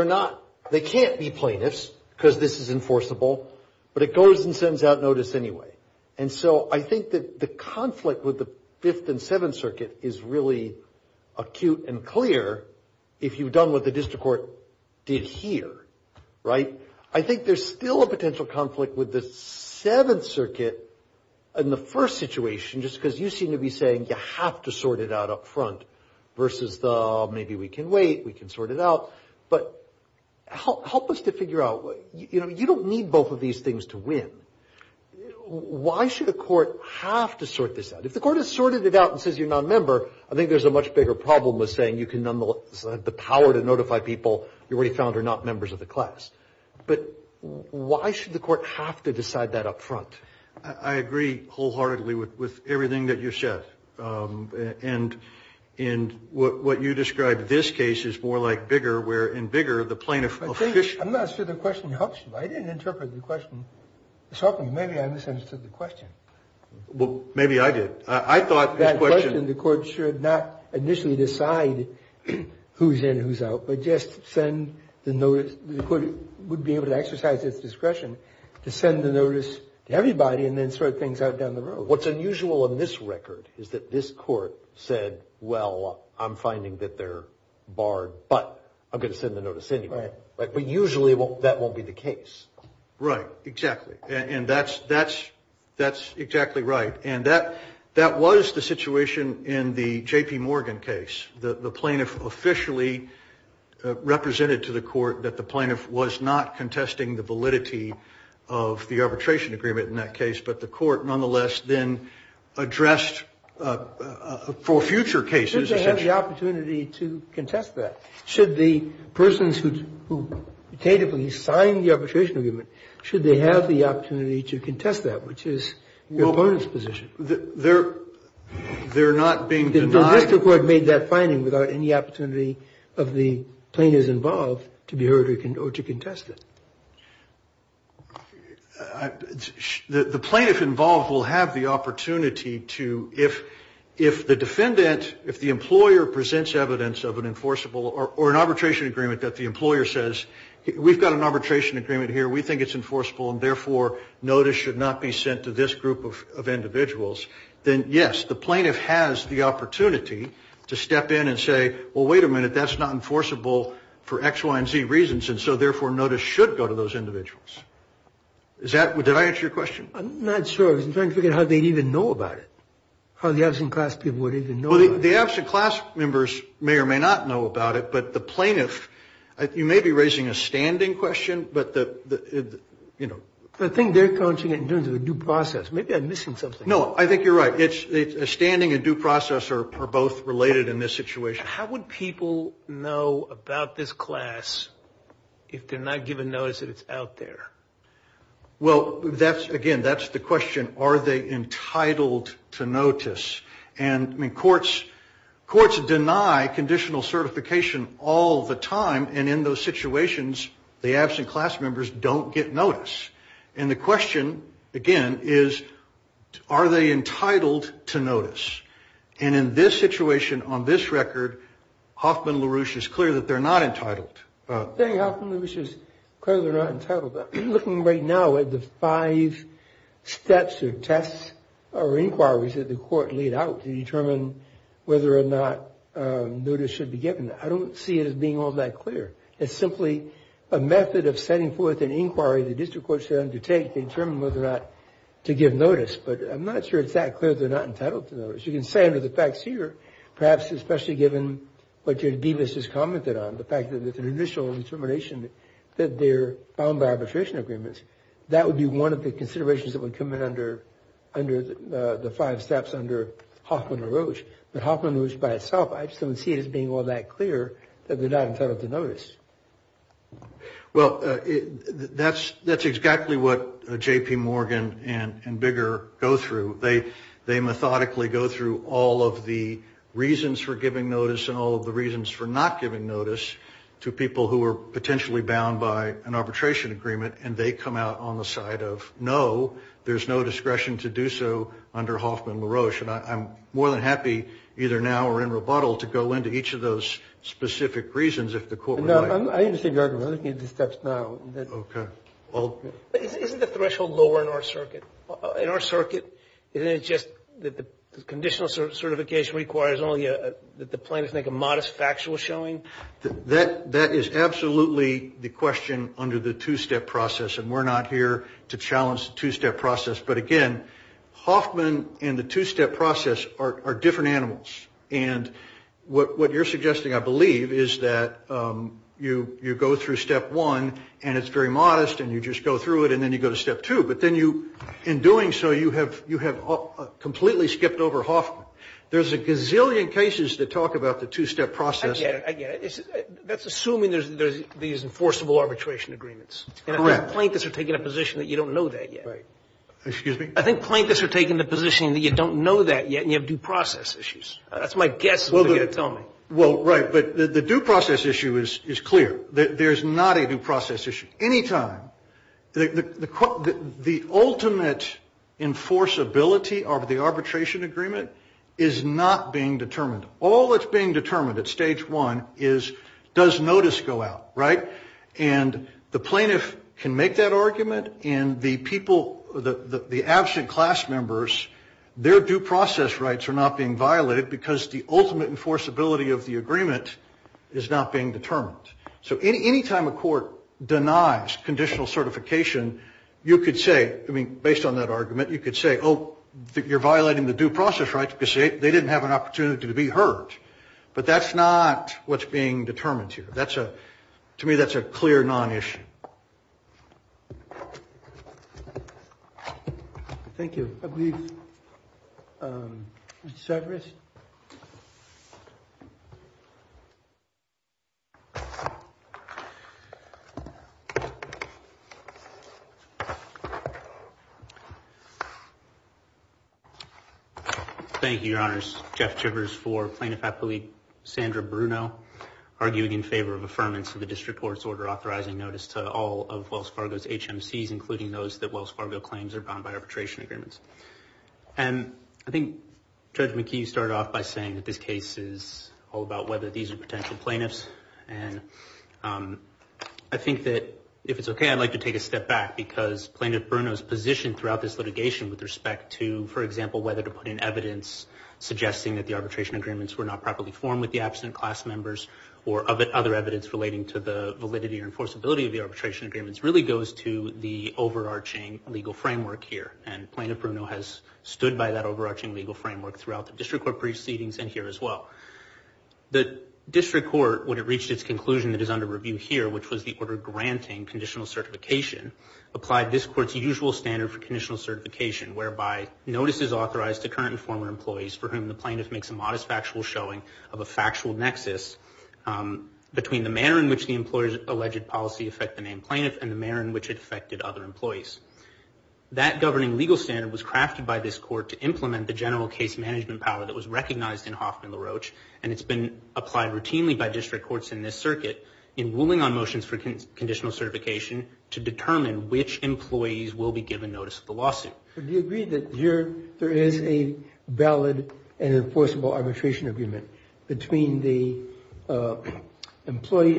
they can't be plaintiffs because this is enforceable, but it goes and sends out notice anyway. And so I think that the conflict with the Fifth and Seventh Circuit is really acute and clear if you've done what the district court did here, right? I think there's still a potential conflict with the Seventh Circuit in the first situation, just because you seem to be saying you have to sort it out up front versus the maybe we can wait, we can sort it out. But help us to figure out, you know, you don't need both of these things to win. Why should the court have to sort this out? If the court has sorted it out and says you're not a member, I think there's a much bigger problem with saying you can nonetheless have the power to notify people you're already found are not members of the class. But why should the court have to decide that up front? I agree wholeheartedly with everything that you said. And what you described in this case is more like bigger, where in bigger, the plaintiff official... I'm not sure the question helps you. I didn't interpret the question. It's helping. Maybe I misunderstood the question. Well, maybe I did. I thought the question... That question, the court should not initially decide who's in and who's out, but just send the notice. The court would be able to exercise its discretion to send the notice to everybody and then sort things out down the road. What's unusual in this record is that this court said, well, I'm finding that they're barred, but I'm going to send the notice anyway. But usually that won't be the case. Right, exactly. And that's exactly right. And that was the situation in the J.P. Morgan case. The plaintiff officially represented to the court that the plaintiff was not contesting the validity of the arbitration agreement in that case, but the court nonetheless then addressed for future cases... Should they have the opportunity to contest that? Should the persons who tentatively signed the arbitration agreement, should they have the opportunity to contest that, which is the opponent's position? They're not being denied... The district court made that finding without any opportunity of the plaintiff's involved to be heard or to contest it. The plaintiff involved will have the opportunity to... If the defendant, if the employer presents evidence of an enforceable or an arbitration agreement that the employer says, we've got an arbitration agreement here, we think it's enforceable, and therefore notice should not be sent to this group of individuals, then yes, the plaintiff has the opportunity to step in and say, well, wait a minute, that's not enforceable for X, Y, and Z reasons, and so therefore notice should go to those individuals. Did I answer your question? I'm not sure. I was trying to figure out how they'd even know about it, how the absent class people would even know about it. The absent class members may or may not know about it, but the plaintiff, you may be raising a standing question, but the... I think they're counting it in terms of a due process. Maybe I'm missing something. No, I think you're right. It's a standing and due process are both related in this situation. How would people know about this class if they're not given notice that it's out there? Well, again, that's the question. Are they entitled to notice? And courts deny conditional certification all the time, and in those situations the absent class members don't get notice. And the question, again, is are they entitled to notice? And in this situation, on this record, Hoffman-LaRouche is clear that they're not entitled. Thank you, Hoffman-LaRouche, because they're not entitled. I'm looking right now at the five steps or tests or inquiries that the court laid out to determine whether or not notice should be given. I don't see it as being all that clear. It's simply a method of sending forth an inquiry the district court should undertake to determine whether or not to give notice. But I'm not sure it's that clear that they're not entitled to notice. You can say under the facts here, perhaps especially given what Jodi Davis just commented on, the fact that there's an initial determination that they're bound by arbitration agreements. That would be one of the considerations that would come in under the five steps under Hoffman-LaRouche. But Hoffman-LaRouche by itself, I just don't see it as being all that clear that they're not entitled to notice. Well, that's exactly what J.P. Morgan and Bigger go through. They methodically go through all of the reasons for giving notice and all of the reasons for not giving notice to people who are potentially bound by an arbitration agreement, and they come out on the side of, no, there's no discretion to do so under Hoffman-LaRouche. And I'm more than happy, either now or in rebuttal, to go into each of those specific reasons if the court would like. I'm looking at the steps now. Isn't the threshold lower in our circuit? Isn't it just that the conditional certification requires only that the plaintiff make a modest factual showing? That is absolutely the question under the two-step process, and we're not here to challenge the two-step process. But again, Hoffman and the two-step process are different animals. And what you're suggesting, I believe, is that you go through step one, and it's very modest, and you just go through it, and then you go to step two. But then you, in doing so, you have completely skipped over Hoffman. There's a gazillion cases that talk about the two-step process. That's assuming there's enforceable arbitration agreements. Correct. And I think plaintiffs are taking a position that you don't know that yet. Excuse me? I think plaintiffs are taking the position that you don't know that yet, and you have due process issues. That's my guess. Well, right, but the due process issue is clear. There's not a due process issue. Any time, the ultimate enforceability of the arbitration agreement is not being determined. All that's being determined at stage one is does notice go out, right? And the plaintiff can make that argument, and the absent class members, their due process rights are not being violated because the ultimate enforceability of the agreement is not being determined. So any time a court denies conditional certification, you could say, I mean, based on that argument, you could say, oh, you're violating the due process rights because they didn't have an opportunity to be heard. But that's not what's being determined here. To me, that's a clear non-issue. Thank you. Mr. Severus? Thank you, Your Honors. Jeff Severus for Plaintiff Appellate Sandra Bruno, arguing in favor of affirmance of the district court's order authorizing notice to all of Wells Fargo's HMCs, including those that Wells Fargo claims are bound by arbitration agreements. And I think Judge McKee started off by saying that this case is all about whether these are potential plaintiffs. And I think that if it's okay, I'd like to take a step back because Plaintiff Bruno's position throughout this litigation with respect to, for example, whether to put in evidence suggesting that the arbitration agreements were not properly formed with the absent class members or other evidence relating to the validity or enforceability of the arbitration agreements really goes to the overarching legal framework here. And Plaintiff Bruno has stood by that overarching legal framework throughout the district court proceedings and here as well. The district court, when it reached its conclusion that is under review here, which was the order granting conditional certification, applied this court's usual standard for conditional certification, whereby notice is authorized to current and former employees for whom the plaintiff makes a modest factual showing of a factual nexus between the manner in which the employer's alleged policy affected the main plaintiff and the manner in which it affected other employees. That governing legal standard was crafted by this court to implement the general case management power that was recognized in Hoffman and LaRoche, and it's been applied routinely by district courts in this circuit in ruling on motions for conditional certification to determine which employees will be given notice of the lawsuit. Do you agree that there is a valid and enforceable arbitration agreement between the employee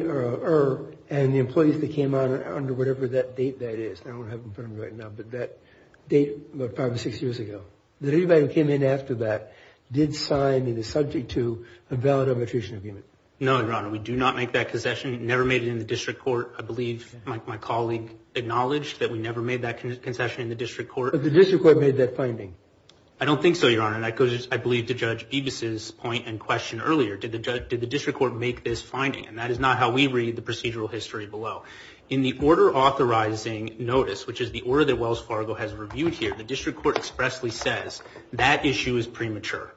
and the employees that came under whatever that date that is? I don't have it in front of me right now, but that date was probably six years ago. That anybody that came in after that did sign and is subject to a valid arbitration agreement? No, Your Honor, we do not make that concession. We never made it in the district court. I believe my colleague acknowledged that we never made that concession in the district court. But the district court made that finding. I don't think so, Your Honor, and I believe to Judge Bevis' point and question earlier. Did the district court make this finding? And that is not how we read the procedural history below. In the order authorizing notice, which is the order that Wells Fargo has reviewed here, the district court expressly says that issue is premature.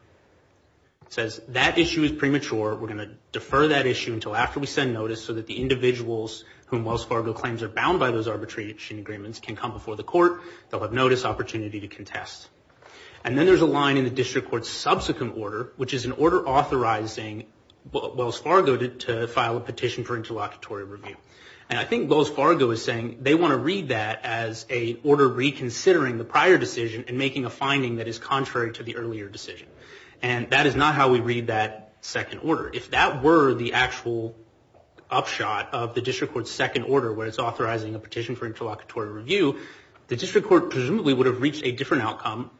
It says that issue is premature. We're going to defer that issue until after we send notice so that the individuals whom Wells Fargo claims are bound by those arbitration agreements can come before the court. They'll have notice opportunity to contest. And then there's a line in the district court's subsequent order, which is an order authorizing Wells Fargo to file a petition for interlocutory review. And I think Wells Fargo is saying they want to read that as a order reconsidering the prior decision and making a finding that is contrary to the earlier decision. And that is not how we read that second order. If that were the actual upshot of the district court's second order, where it's authorizing a petition for interlocutory review, the district court presumably would have reached a different outcome,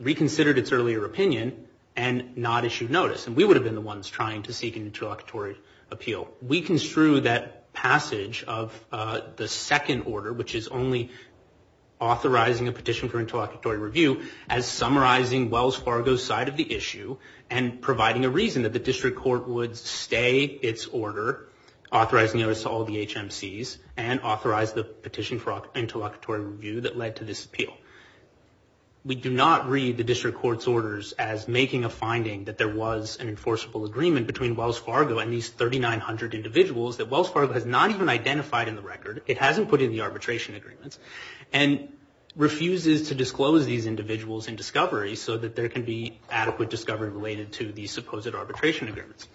reconsidered its earlier opinion, and not issued notice. And we would have been the ones trying to seek an interlocutory appeal. We construe that passage of the second order, which is only authorizing a petition for interlocutory review, as summarizing Wells Fargo's side of the issue and providing a reason that the district court would stay its order, authorize notice to all the HMCs, and authorize the petition for interlocutory review that led to this appeal. We do not read the district court's orders as making a finding that there was an enforceable agreement between Wells Fargo and these 3,900 individuals that Wells Fargo has not even identified in the record. It hasn't put in the arbitration agreements and refuses to disclose these individuals in discovery so that there can be adequate discovery related to these supposed arbitration agreements.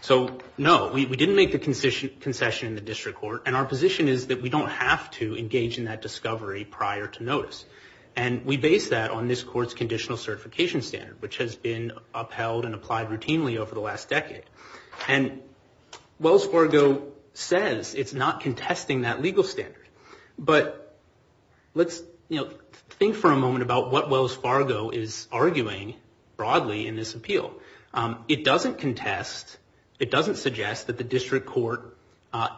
So, no, we didn't make the concession in the district court, and our position is that we don't have to engage in that discovery prior to notice. And we base that on this court's conditional certification standard, which has been upheld and applied routinely over the last decade. And Wells Fargo says it's not contesting that legal standard, but let's think for a moment about what Wells Fargo is arguing broadly in this appeal. It doesn't contest, it doesn't suggest that the district court,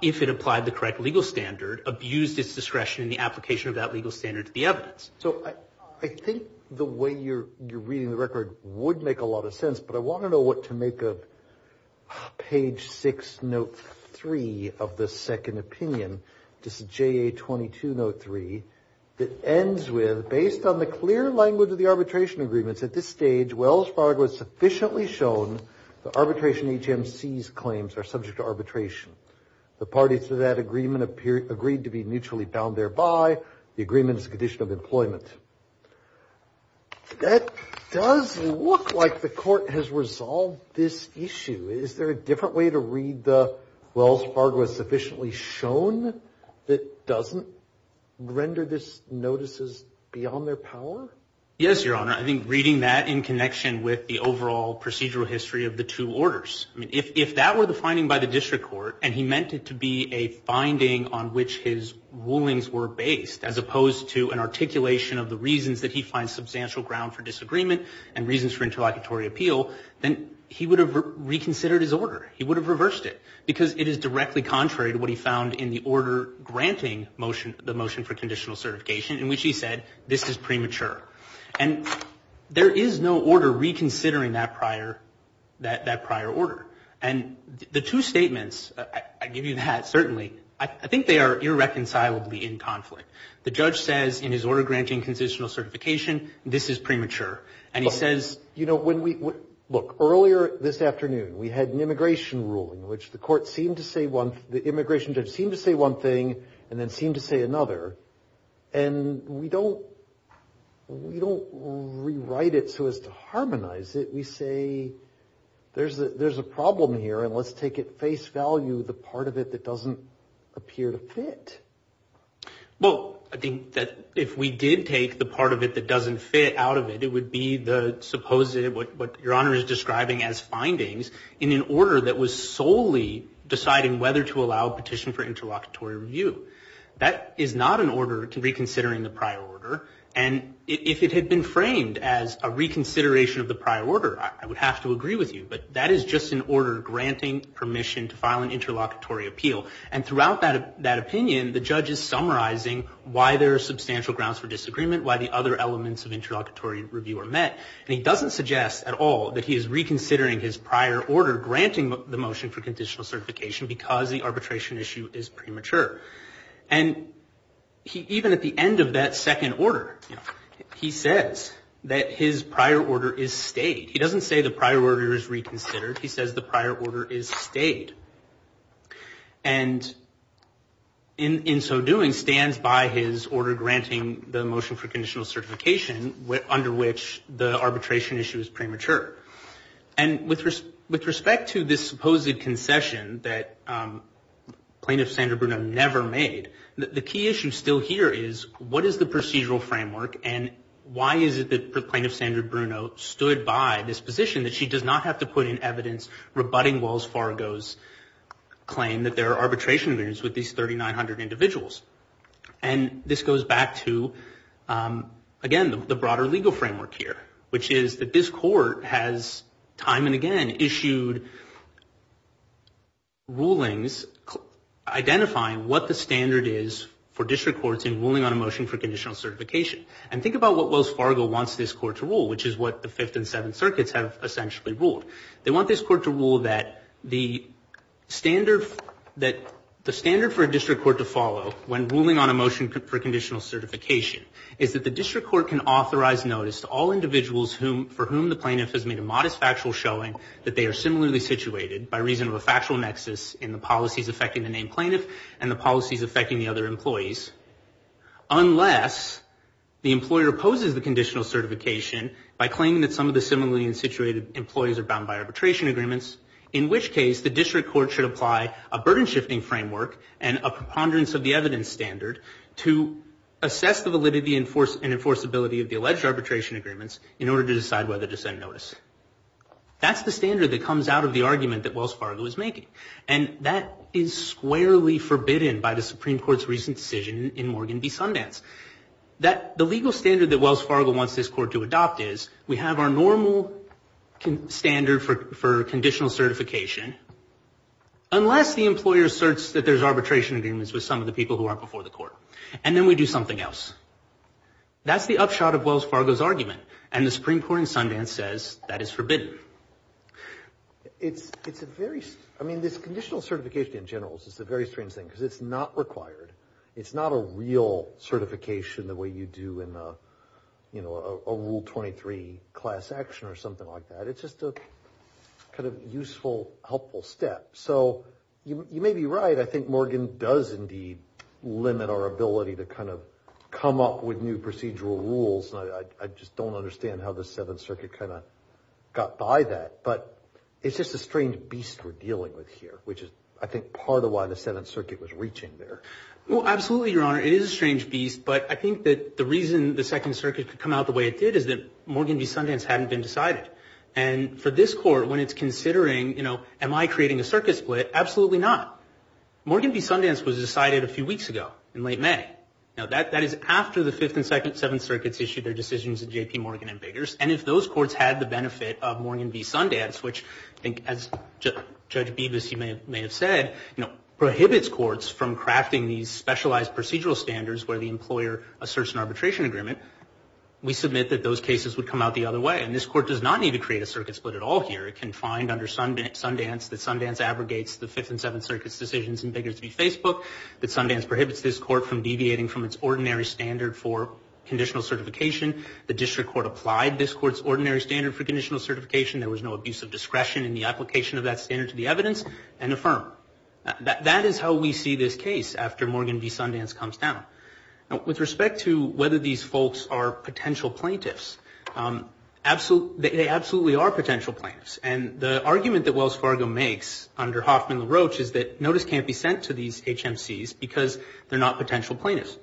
if it applied the correct legal standard, abused its discretion in the application of that legal standard to the evidence. So I think the way you're reading the record would make a lot of sense, but I want to know what to make of page 6, note 3 of the second opinion. This is JA 2203. It ends with, based on the clear language of the arbitration agreements, at this stage, Wells Fargo has sufficiently shown the arbitration HMC's claims are subject to arbitration. The parties to that agreement agreed to be mutually bound thereby. The agreement is a condition of employment. That does look like the court has resolved this issue. Is there a different way to read the Wells Fargo has sufficiently shown that doesn't render this notices beyond their power? Yes, Your Honor. I think reading that in connection with the overall procedural history of the two orders. If that were the finding by the district court, and he meant it to be a finding on which his rulings were based, as opposed to an articulation of the reasons that he finds substantial ground for disagreement and reasons for interlocutory appeal, then he would have reconsidered his order. He would have reversed it because it is directly contrary to what he found in the order granting the motion for conditional certification in which he said this is premature. And there is no order reconsidering that prior order. And the two statements, I give you that certainly, I think they are irreconcilably in conflict. The judge says in his order granting conditional certification, this is premature. Look, earlier this afternoon we had an immigration ruling which the immigration judge seemed to say one thing and then seemed to say another. And we don't rewrite it so as to harmonize it. We say there is a problem here and let's take at face value the part of it that doesn't appear to fit. Well, I think that if we did take the part of it that doesn't fit out of it, it would be what Your Honor is describing as findings in an order that was solely deciding whether to allow a petition for interlocutory review. That is not an order to reconsider in the prior order. And if it had been framed as a reconsideration of the prior order, I would have to agree with you. But that is just an order granting permission to file an interlocutory appeal. And throughout that opinion, the judge is summarizing why there are substantial grounds for disagreement, why the other elements of interlocutory review are met. And he doesn't suggest at all that he is reconsidering his prior order granting the motion for conditional certification because the arbitration issue is premature. And even at the end of that second order, he says that his prior order is stayed. He doesn't say the prior order is reconsidered. He says the prior order is stayed. And in so doing, stands by his order granting the motion for conditional certification under which the arbitration issue is premature. And with respect to this supposed concession that Plaintiff Sandra Bruno never made, the key issue still here is what is the procedural framework and why is it that Plaintiff Sandra Bruno stood by this position that she does not have to put in evidence rebutting Wells Fargo's claim that there are arbitration agreements with these 3,900 individuals. And this goes back to, again, the broader legal framework here, which is that this court has time and again issued rulings identifying what the standard is for district courts in ruling on a motion for conditional certification. And think about what Wells Fargo wants this court to rule, which is what the Fifth and Seventh Circuits have essentially ruled. They want this court to rule that the standard for a district court to follow when ruling on a motion for conditional certification is that the district court can authorize notice to all individuals for whom the plaintiff has made a modest factual showing that they are similarly situated by reason of a factual nexus in the policies affecting the named plaintiff and the policies affecting the other employees unless the employer opposes the conditional certification by claiming that some of the similarly situated employees are bound by arbitration agreements, in which case the district court should apply a burden-shifting framework and a preponderance of the evidence standard to assess the validity and enforceability of the alleged arbitration agreements in order to decide whether to send notice. That's the standard that comes out of the argument that Wells Fargo is making. And that is squarely forbidden by the Supreme Court's recent decision in Morgan v. Sundance. The legal standard that Wells Fargo wants this court to adopt is we have our normal standard for conditional certification unless the employer asserts that there's arbitration agreements with some of the people who aren't before the court. And then we do something else. That's the upshot of Wells Fargo's argument. And the Supreme Court in Sundance says that is forbidden. It's a very... I mean, this conditional certification in general is a very strange thing because it's not required. It's not a real certification the way you do in a Rule 23 class action or something like that. It's just a kind of useful, helpful step. So you may be right. I think Morgan does indeed limit our ability to kind of come up with new procedural rules. And I just don't understand how the Seventh Circuit kind of got by that. But it's just a strange beast we're dealing with here, which is, I think, part of why the Seventh Circuit was reaching there. Well, absolutely, Your Honor. It is a strange beast. But I think that the reason the Second Circuit could come out the way it did is that Morgan v. Sundance hadn't been decided. And for this court, when it's considering, you know, am I creating a circuit split? Absolutely not. Morgan v. Sundance was decided a few weeks ago in late May. Now, that is after the Fifth and Second Seventh Circuits issued their decisions in J.P. Morgan v. Biggers. And if those courts had the benefit of Morgan v. Sundance, which I think as Judge Bevis may have said, you know, prohibits courts from crafting these specialized procedural standards where the employer asserts an arbitration agreement, we submit that those cases would come out the other way. And this court does not need to create a circuit split at all here. It can find under Sundance that Sundance aggregates the Fifth and Seventh Circuit's decisions in Biggers v. Facebook, that Sundance prohibits this court from deviating from its ordinary standard for conditional certification, the district court applied this court's ordinary standard for conditional certification, there was no abuse of discretion in the application of that standard to the evidence, and affirmed. That is how we see this case after Morgan v. Sundance comes down. With respect to whether these folks are potential plaintiffs, they absolutely are potential plaintiffs. And the argument that Wells Fargo makes under Hoffman LaRoche is that because they're not potential plaintiffs.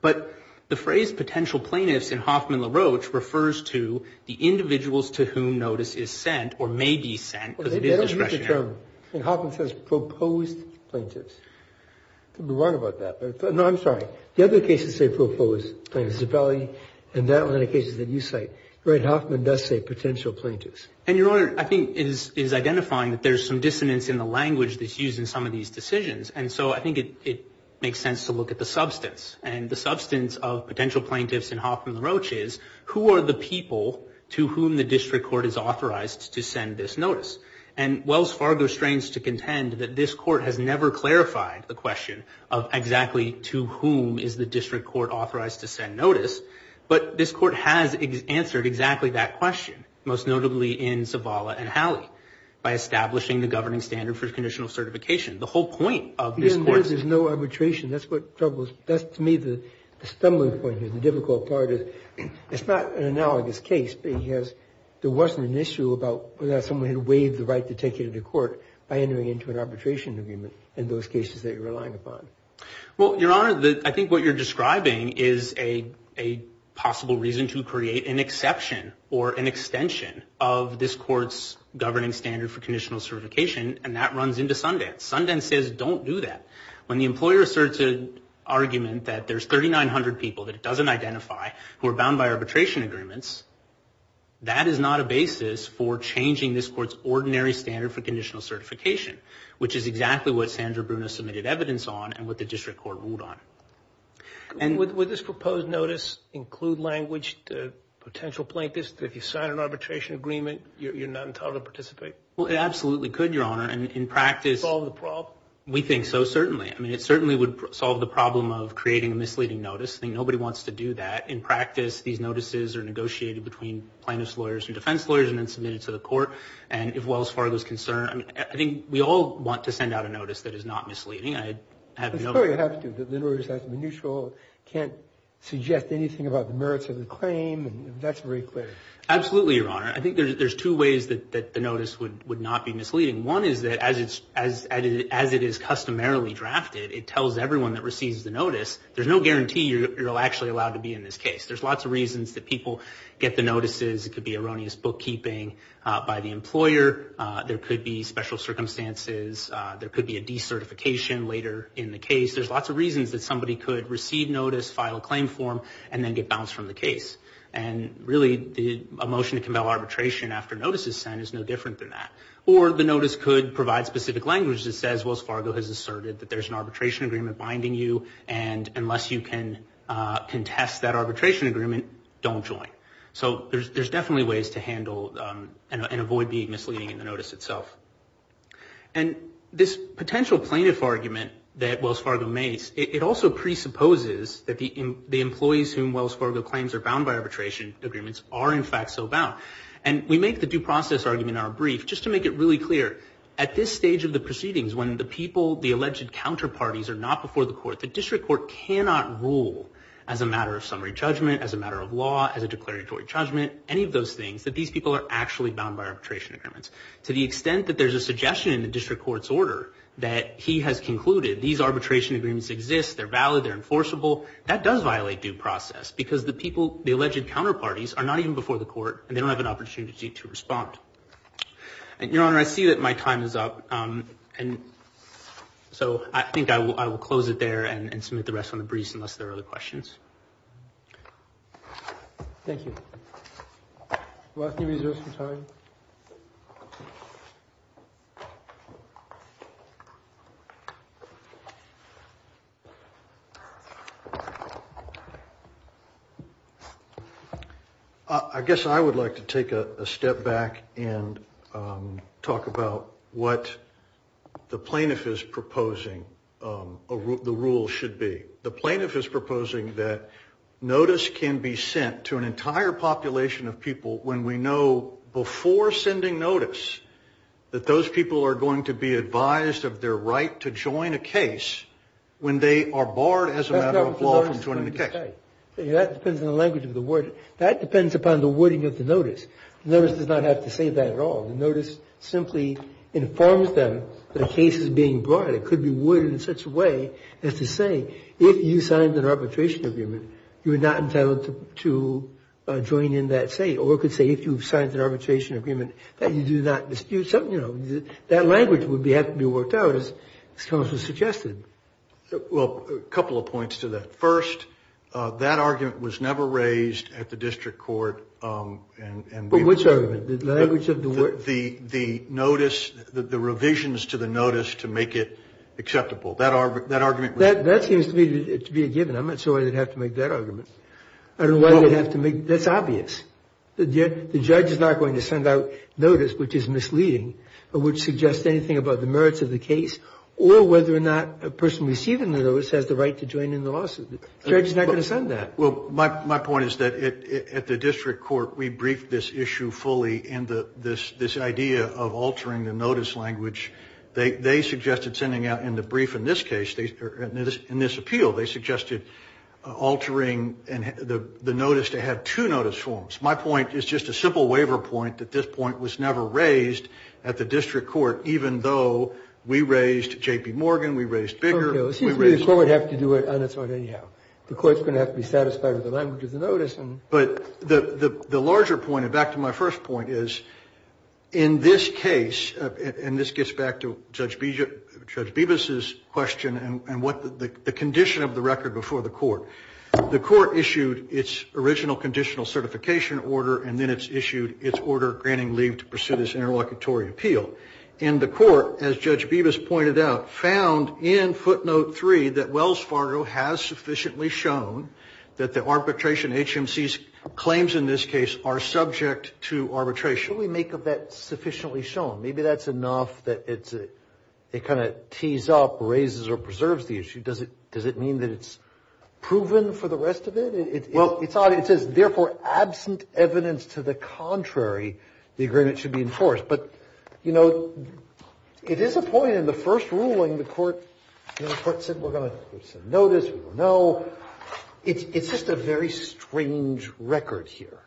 But the phrase potential plaintiffs in Hoffman LaRoche refers to the individuals to whom notice is sent or may be sent. And Hoffman says proposed plaintiffs. Could be wrong about that. No, I'm sorry. The other cases say proposed plaintiffs, and that one in the cases that you cite, where Hoffman does say potential plaintiffs. And your Honor, I think, is identifying that there's some dissonance in the language that's used in some of these decisions, and so I think it makes sense to look at the substance. And the substance of potential plaintiffs in Hoffman LaRoche is, who are the people to whom the district court is authorized to send this notice? And Wells Fargo strains to contend that this court has never clarified the question of exactly to whom is the district court authorized to send notice, but this court has answered exactly that question, most notably in Zavala and Hallie, by establishing the governing standard for conditional certification. The whole point of this court. There's no arbitration. That's what troubles me. The stumbling point here, the difficult part is, it's not an analogous case, because there wasn't an issue about whether someone had waived the right to take it into court by entering into an arbitration agreement in those cases that you're relying upon. Well, Your Honor, I think what you're describing is a possible reason to create an exception or an extension of this court's governing standard for conditional certification, and that runs into Sundance. Sundance says don't do that. When the employer asserts an argument that there's 3,900 people that it doesn't identify who are bound by arbitration agreements, that is not a basis for changing this court's ordinary standard for conditional certification, which is exactly what Sandra Bruno submitted evidence on and what the district court ruled on. And would this proposed notice include language to potential plaintiffs that if you sign an arbitration agreement, you're not entitled to participate? Well, it absolutely could, Your Honor. And in practice... Would it solve the problem? We think so, certainly. I mean, it certainly would solve the problem of creating a misleading notice. I think nobody wants to do that. In practice, these notices are negotiated between plaintiffs' lawyers and defense lawyers and then submitted to the court. And if well as far as there's concern, I think we all want to send out a notice that is not misleading. It's very objective that the notice has to be neutral, can't suggest anything about the merits of the claim, and that's very clear. Absolutely, Your Honor. I think there's two ways that the notice would not be misleading. One is that as it is customarily drafted, it tells everyone that receives the notice, there's no guarantee you're actually allowed to be in this case. There's lots of reasons that people get the notices. It could be erroneous bookkeeping by the employer. There could be special circumstances. There could be a decertification later in the case. There's lots of reasons that somebody could receive notice, file a claim form, and then get bounced from the case. And really, a motion to compel arbitration after notice is sent is no different than that. Or the notice could provide specific language that says, Wells Fargo has asserted that there's an arbitration agreement binding you, and unless you can contest that arbitration agreement, don't join. So there's definitely ways to handle and avoid being misleading in the notice itself. And this potential plaintiff argument that Wells Fargo makes, it also presupposes that the employees whom Wells Fargo claims are bound by arbitration agreements are in fact so bound. And we make the due process argument in our brief just to make it really clear. At this stage of the proceedings, when the people, the alleged counterparties, are not before the court, the district court cannot rule as a matter of summary judgment, as a matter of law, as a declaratory judgment, any of those things, that these people are actually bound by arbitration agreements. To the extent that there's a suggestion in the district court's order that he has concluded these arbitration agreements exist, they're valid, they're enforceable, that does violate due process because the people, the alleged counterparties, are not even before the court, and they don't have an opportunity to respond. Your Honor, I see that my time is up, and so I think I will close it there and submit the rest on the briefs unless there are other questions. Thank you. I guess I would like to take a step back and talk about what the plaintiff is proposing the rule should be. The plaintiff is proposing that notice can be sent to an entire population of people when we know before sending notice that those people are going to be advised of their right to join a case when they are barred as a matter of law from joining the case. That depends on the language of the word. That depends upon the wording of the notice. The notice does not have to say that at all. The notice simply informs them that a case is being brought. It could be worded in such a way as to say, if you signed an arbitration agreement, you are not entitled to join in that case. Or it could say, if you've signed an arbitration agreement, that you do not dispute. That language would have to be worked out as was suggested. Well, a couple of points to that. First, that argument was never raised at the district court. Which argument? The notice, the revisions to the notice to make it acceptable. That seems to be a given. I'm not sure why they'd have to make that argument. That's obvious. The judge is not going to send out notice which is misleading or would suggest anything about the merits of the case or whether or not a person receiving the notice has the right to join in the lawsuit. The judge is not going to send that. Well, my point is that at the district court, we briefed this issue fully in this idea of altering the notice language. They suggested sending out in the brief in this case, in this appeal, they suggested altering the notice to have two notice forms. My point is just a simple waiver point that this point was never raised at the district court even though we raised J.P. Morgan, we raised Bigger. It seems to me the court would have to do it on its own anyhow. The court's going to have to be satisfied with the language of the notice. But the larger point, and back to my first point, is in this case, and this gets back to Judge Bevis' question and what the condition of the record before the court. The court issued its original conditional certification order and then it's issued its order granting leave to pursue this interlocutory appeal. And the court, as Judge Bevis pointed out, found in footnote three that Wells Fargo has sufficiently shown that the arbitration agency's claims in this case are subject to arbitration. What do we make of that sufficiently shown? Maybe that's enough that it kind of tees up, raises, or preserves the issue. Does it mean that it's proven for the rest of it? It says, therefore, absent evidence to the contrary, the agreement should be enforced. But, you know, it is a point in the first ruling the court said, we're going to issue a notice, we don't know. It's just a very strange record here.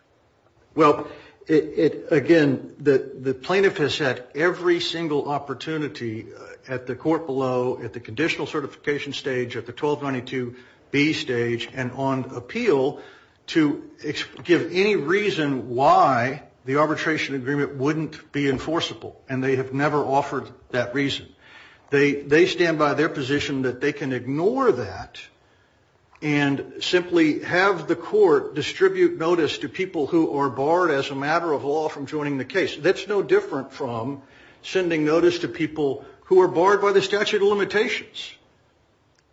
Well, again, the plaintiff has had every single opportunity at the court below, at the conditional certification stage, at the 1292B stage, and on appeal to give any reason why the arbitration agreement wouldn't be enforceable. And they have never offered that reason. They stand by their position that they can ignore that and simply have the court distribute notice to people who are barred, as a matter of law, from joining the case. That's no different from sending notice to people who are barred by the statute of limitations.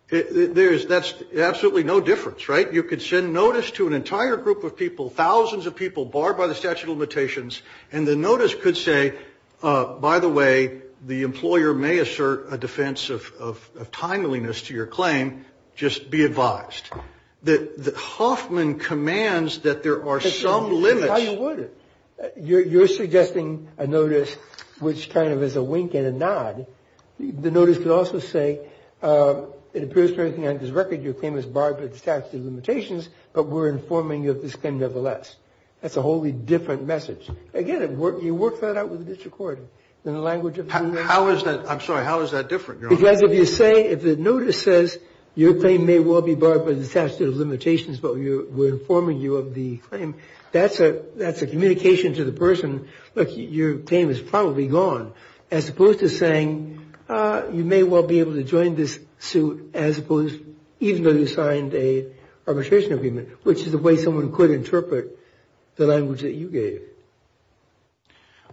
That's absolutely no difference, right? You could send notice to an entire group of people, thousands of people, barred by the statute of limitations, and the notice could say, by the way, the employer may assert a defense of timeliness to your claim, just be advised. Hoffman commands that there are some limits. How you would? You're suggesting a notice which kind of is a wink and a nod. The notice could also say, it appears to anything on this record, your claim is barred by the statute of limitations, but we're informing you of this claim nevertheless. That's a wholly different message. Again, you work that out with a disrecordant. I'm sorry, how is that different? If the notice says, your claim may well be barred by the statute of limitations, but we're informing you of the claim, that's a communication to the person, your claim is probably gone, as opposed to saying, you may well be able to join this suit even though you signed an arbitration agreement, which is the way someone could interpret the language that you gave.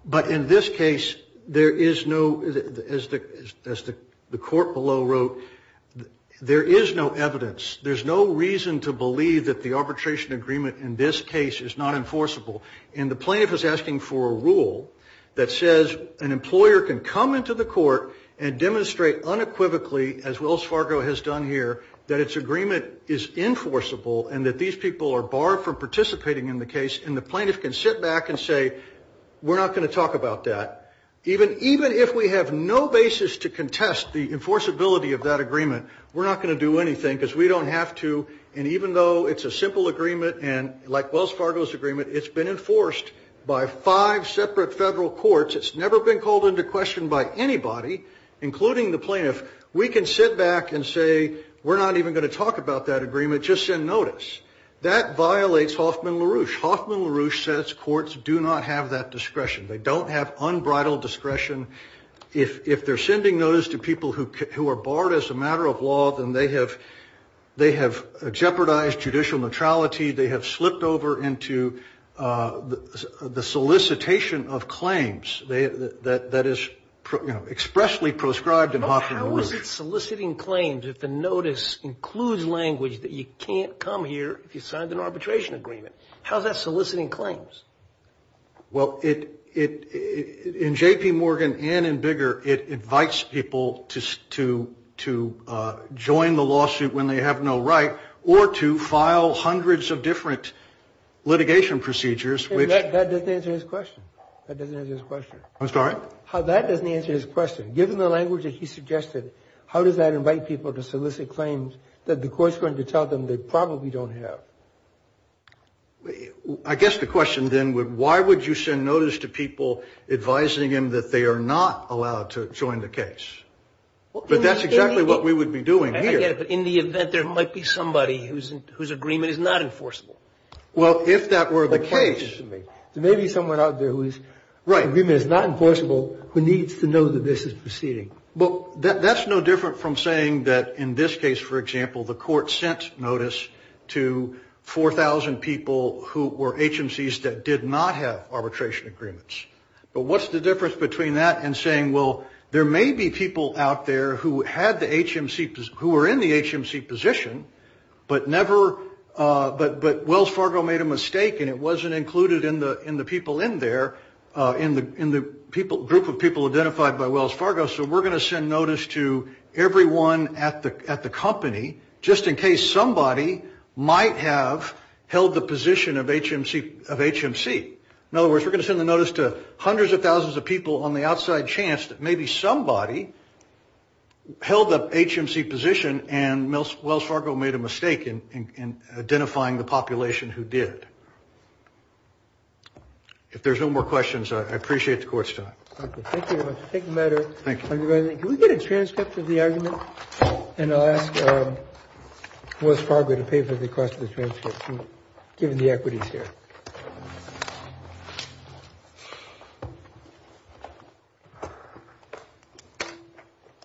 But in this case, there is no, as the court below wrote, there is no evidence. There's no reason to believe that the arbitration agreement in this case is not enforceable. And the plaintiff is asking for a rule that says an employer can come into the court and demonstrate unequivocally, as Wells Fargo has done here, that its agreement is enforceable and that these people are barred from participating in the case, and the plaintiff can sit back and say, we're not going to talk about that. Even if we have no basis to contest the enforceability of that agreement, we're not going to do anything because we don't have to, and even though it's a simple agreement, and like Wells Fargo's agreement, it's been enforced by five separate federal courts, it's never been called into question by anybody, including the plaintiff. We can sit back and say, we're not even going to talk about that agreement, just send notice. That violates Hoffman-LaRouche. Hoffman-LaRouche says courts do not have that discretion. They don't have unbridled discretion. If they're sending notice to people who are barred as a matter of law, then they have jeopardized judicial neutrality, they have slipped over into the solicitation of claims that is expressly prescribed in Hoffman-LaRouche. Soliciting claims if the notice includes language that you can't come here if you've signed an arbitration agreement. How's that soliciting claims? Well, in J.P. Morgan and in Bigger, it invites people to join the lawsuit when they have no right, or to file hundreds of different litigation procedures. That doesn't answer his question. I'm sorry? That doesn't answer his question. Given the language that he suggested, how does that invite people to solicit claims that the court's going to tell them they probably don't have? I guess the question then would, why would you send notice to people advising them that they are not allowed to join the case? But that's exactly what we would be doing here. In the event there might be somebody whose agreement is not enforceable. Well, if that were the case. There may be someone out there whose agreement is not enforceable who needs to know that this is proceeding. Well, that's no different from saying that in this case, for example, the court sent notice to 4,000 people who were HMCs that did not have arbitration agreements. But what's the difference between that and saying, well, there may be people out there who were in the HMC position, but Wells Fargo made a mistake and it wasn't included in the people in there, in the group of people identified by Wells Fargo, so we're going to send notice to everyone at the company, just in case somebody might have held the position of HMC. In other words, we're going to send the notice to hundreds of thousands of people on the outside chance that maybe somebody held the HMC position and Wells Fargo made a mistake in identifying the population who did. If there's no more questions, I appreciate the court's time. Thank you. Can we get a transcript of the argument? And I'll ask Wells Fargo to pay for the cost of the transcript, given the equities here.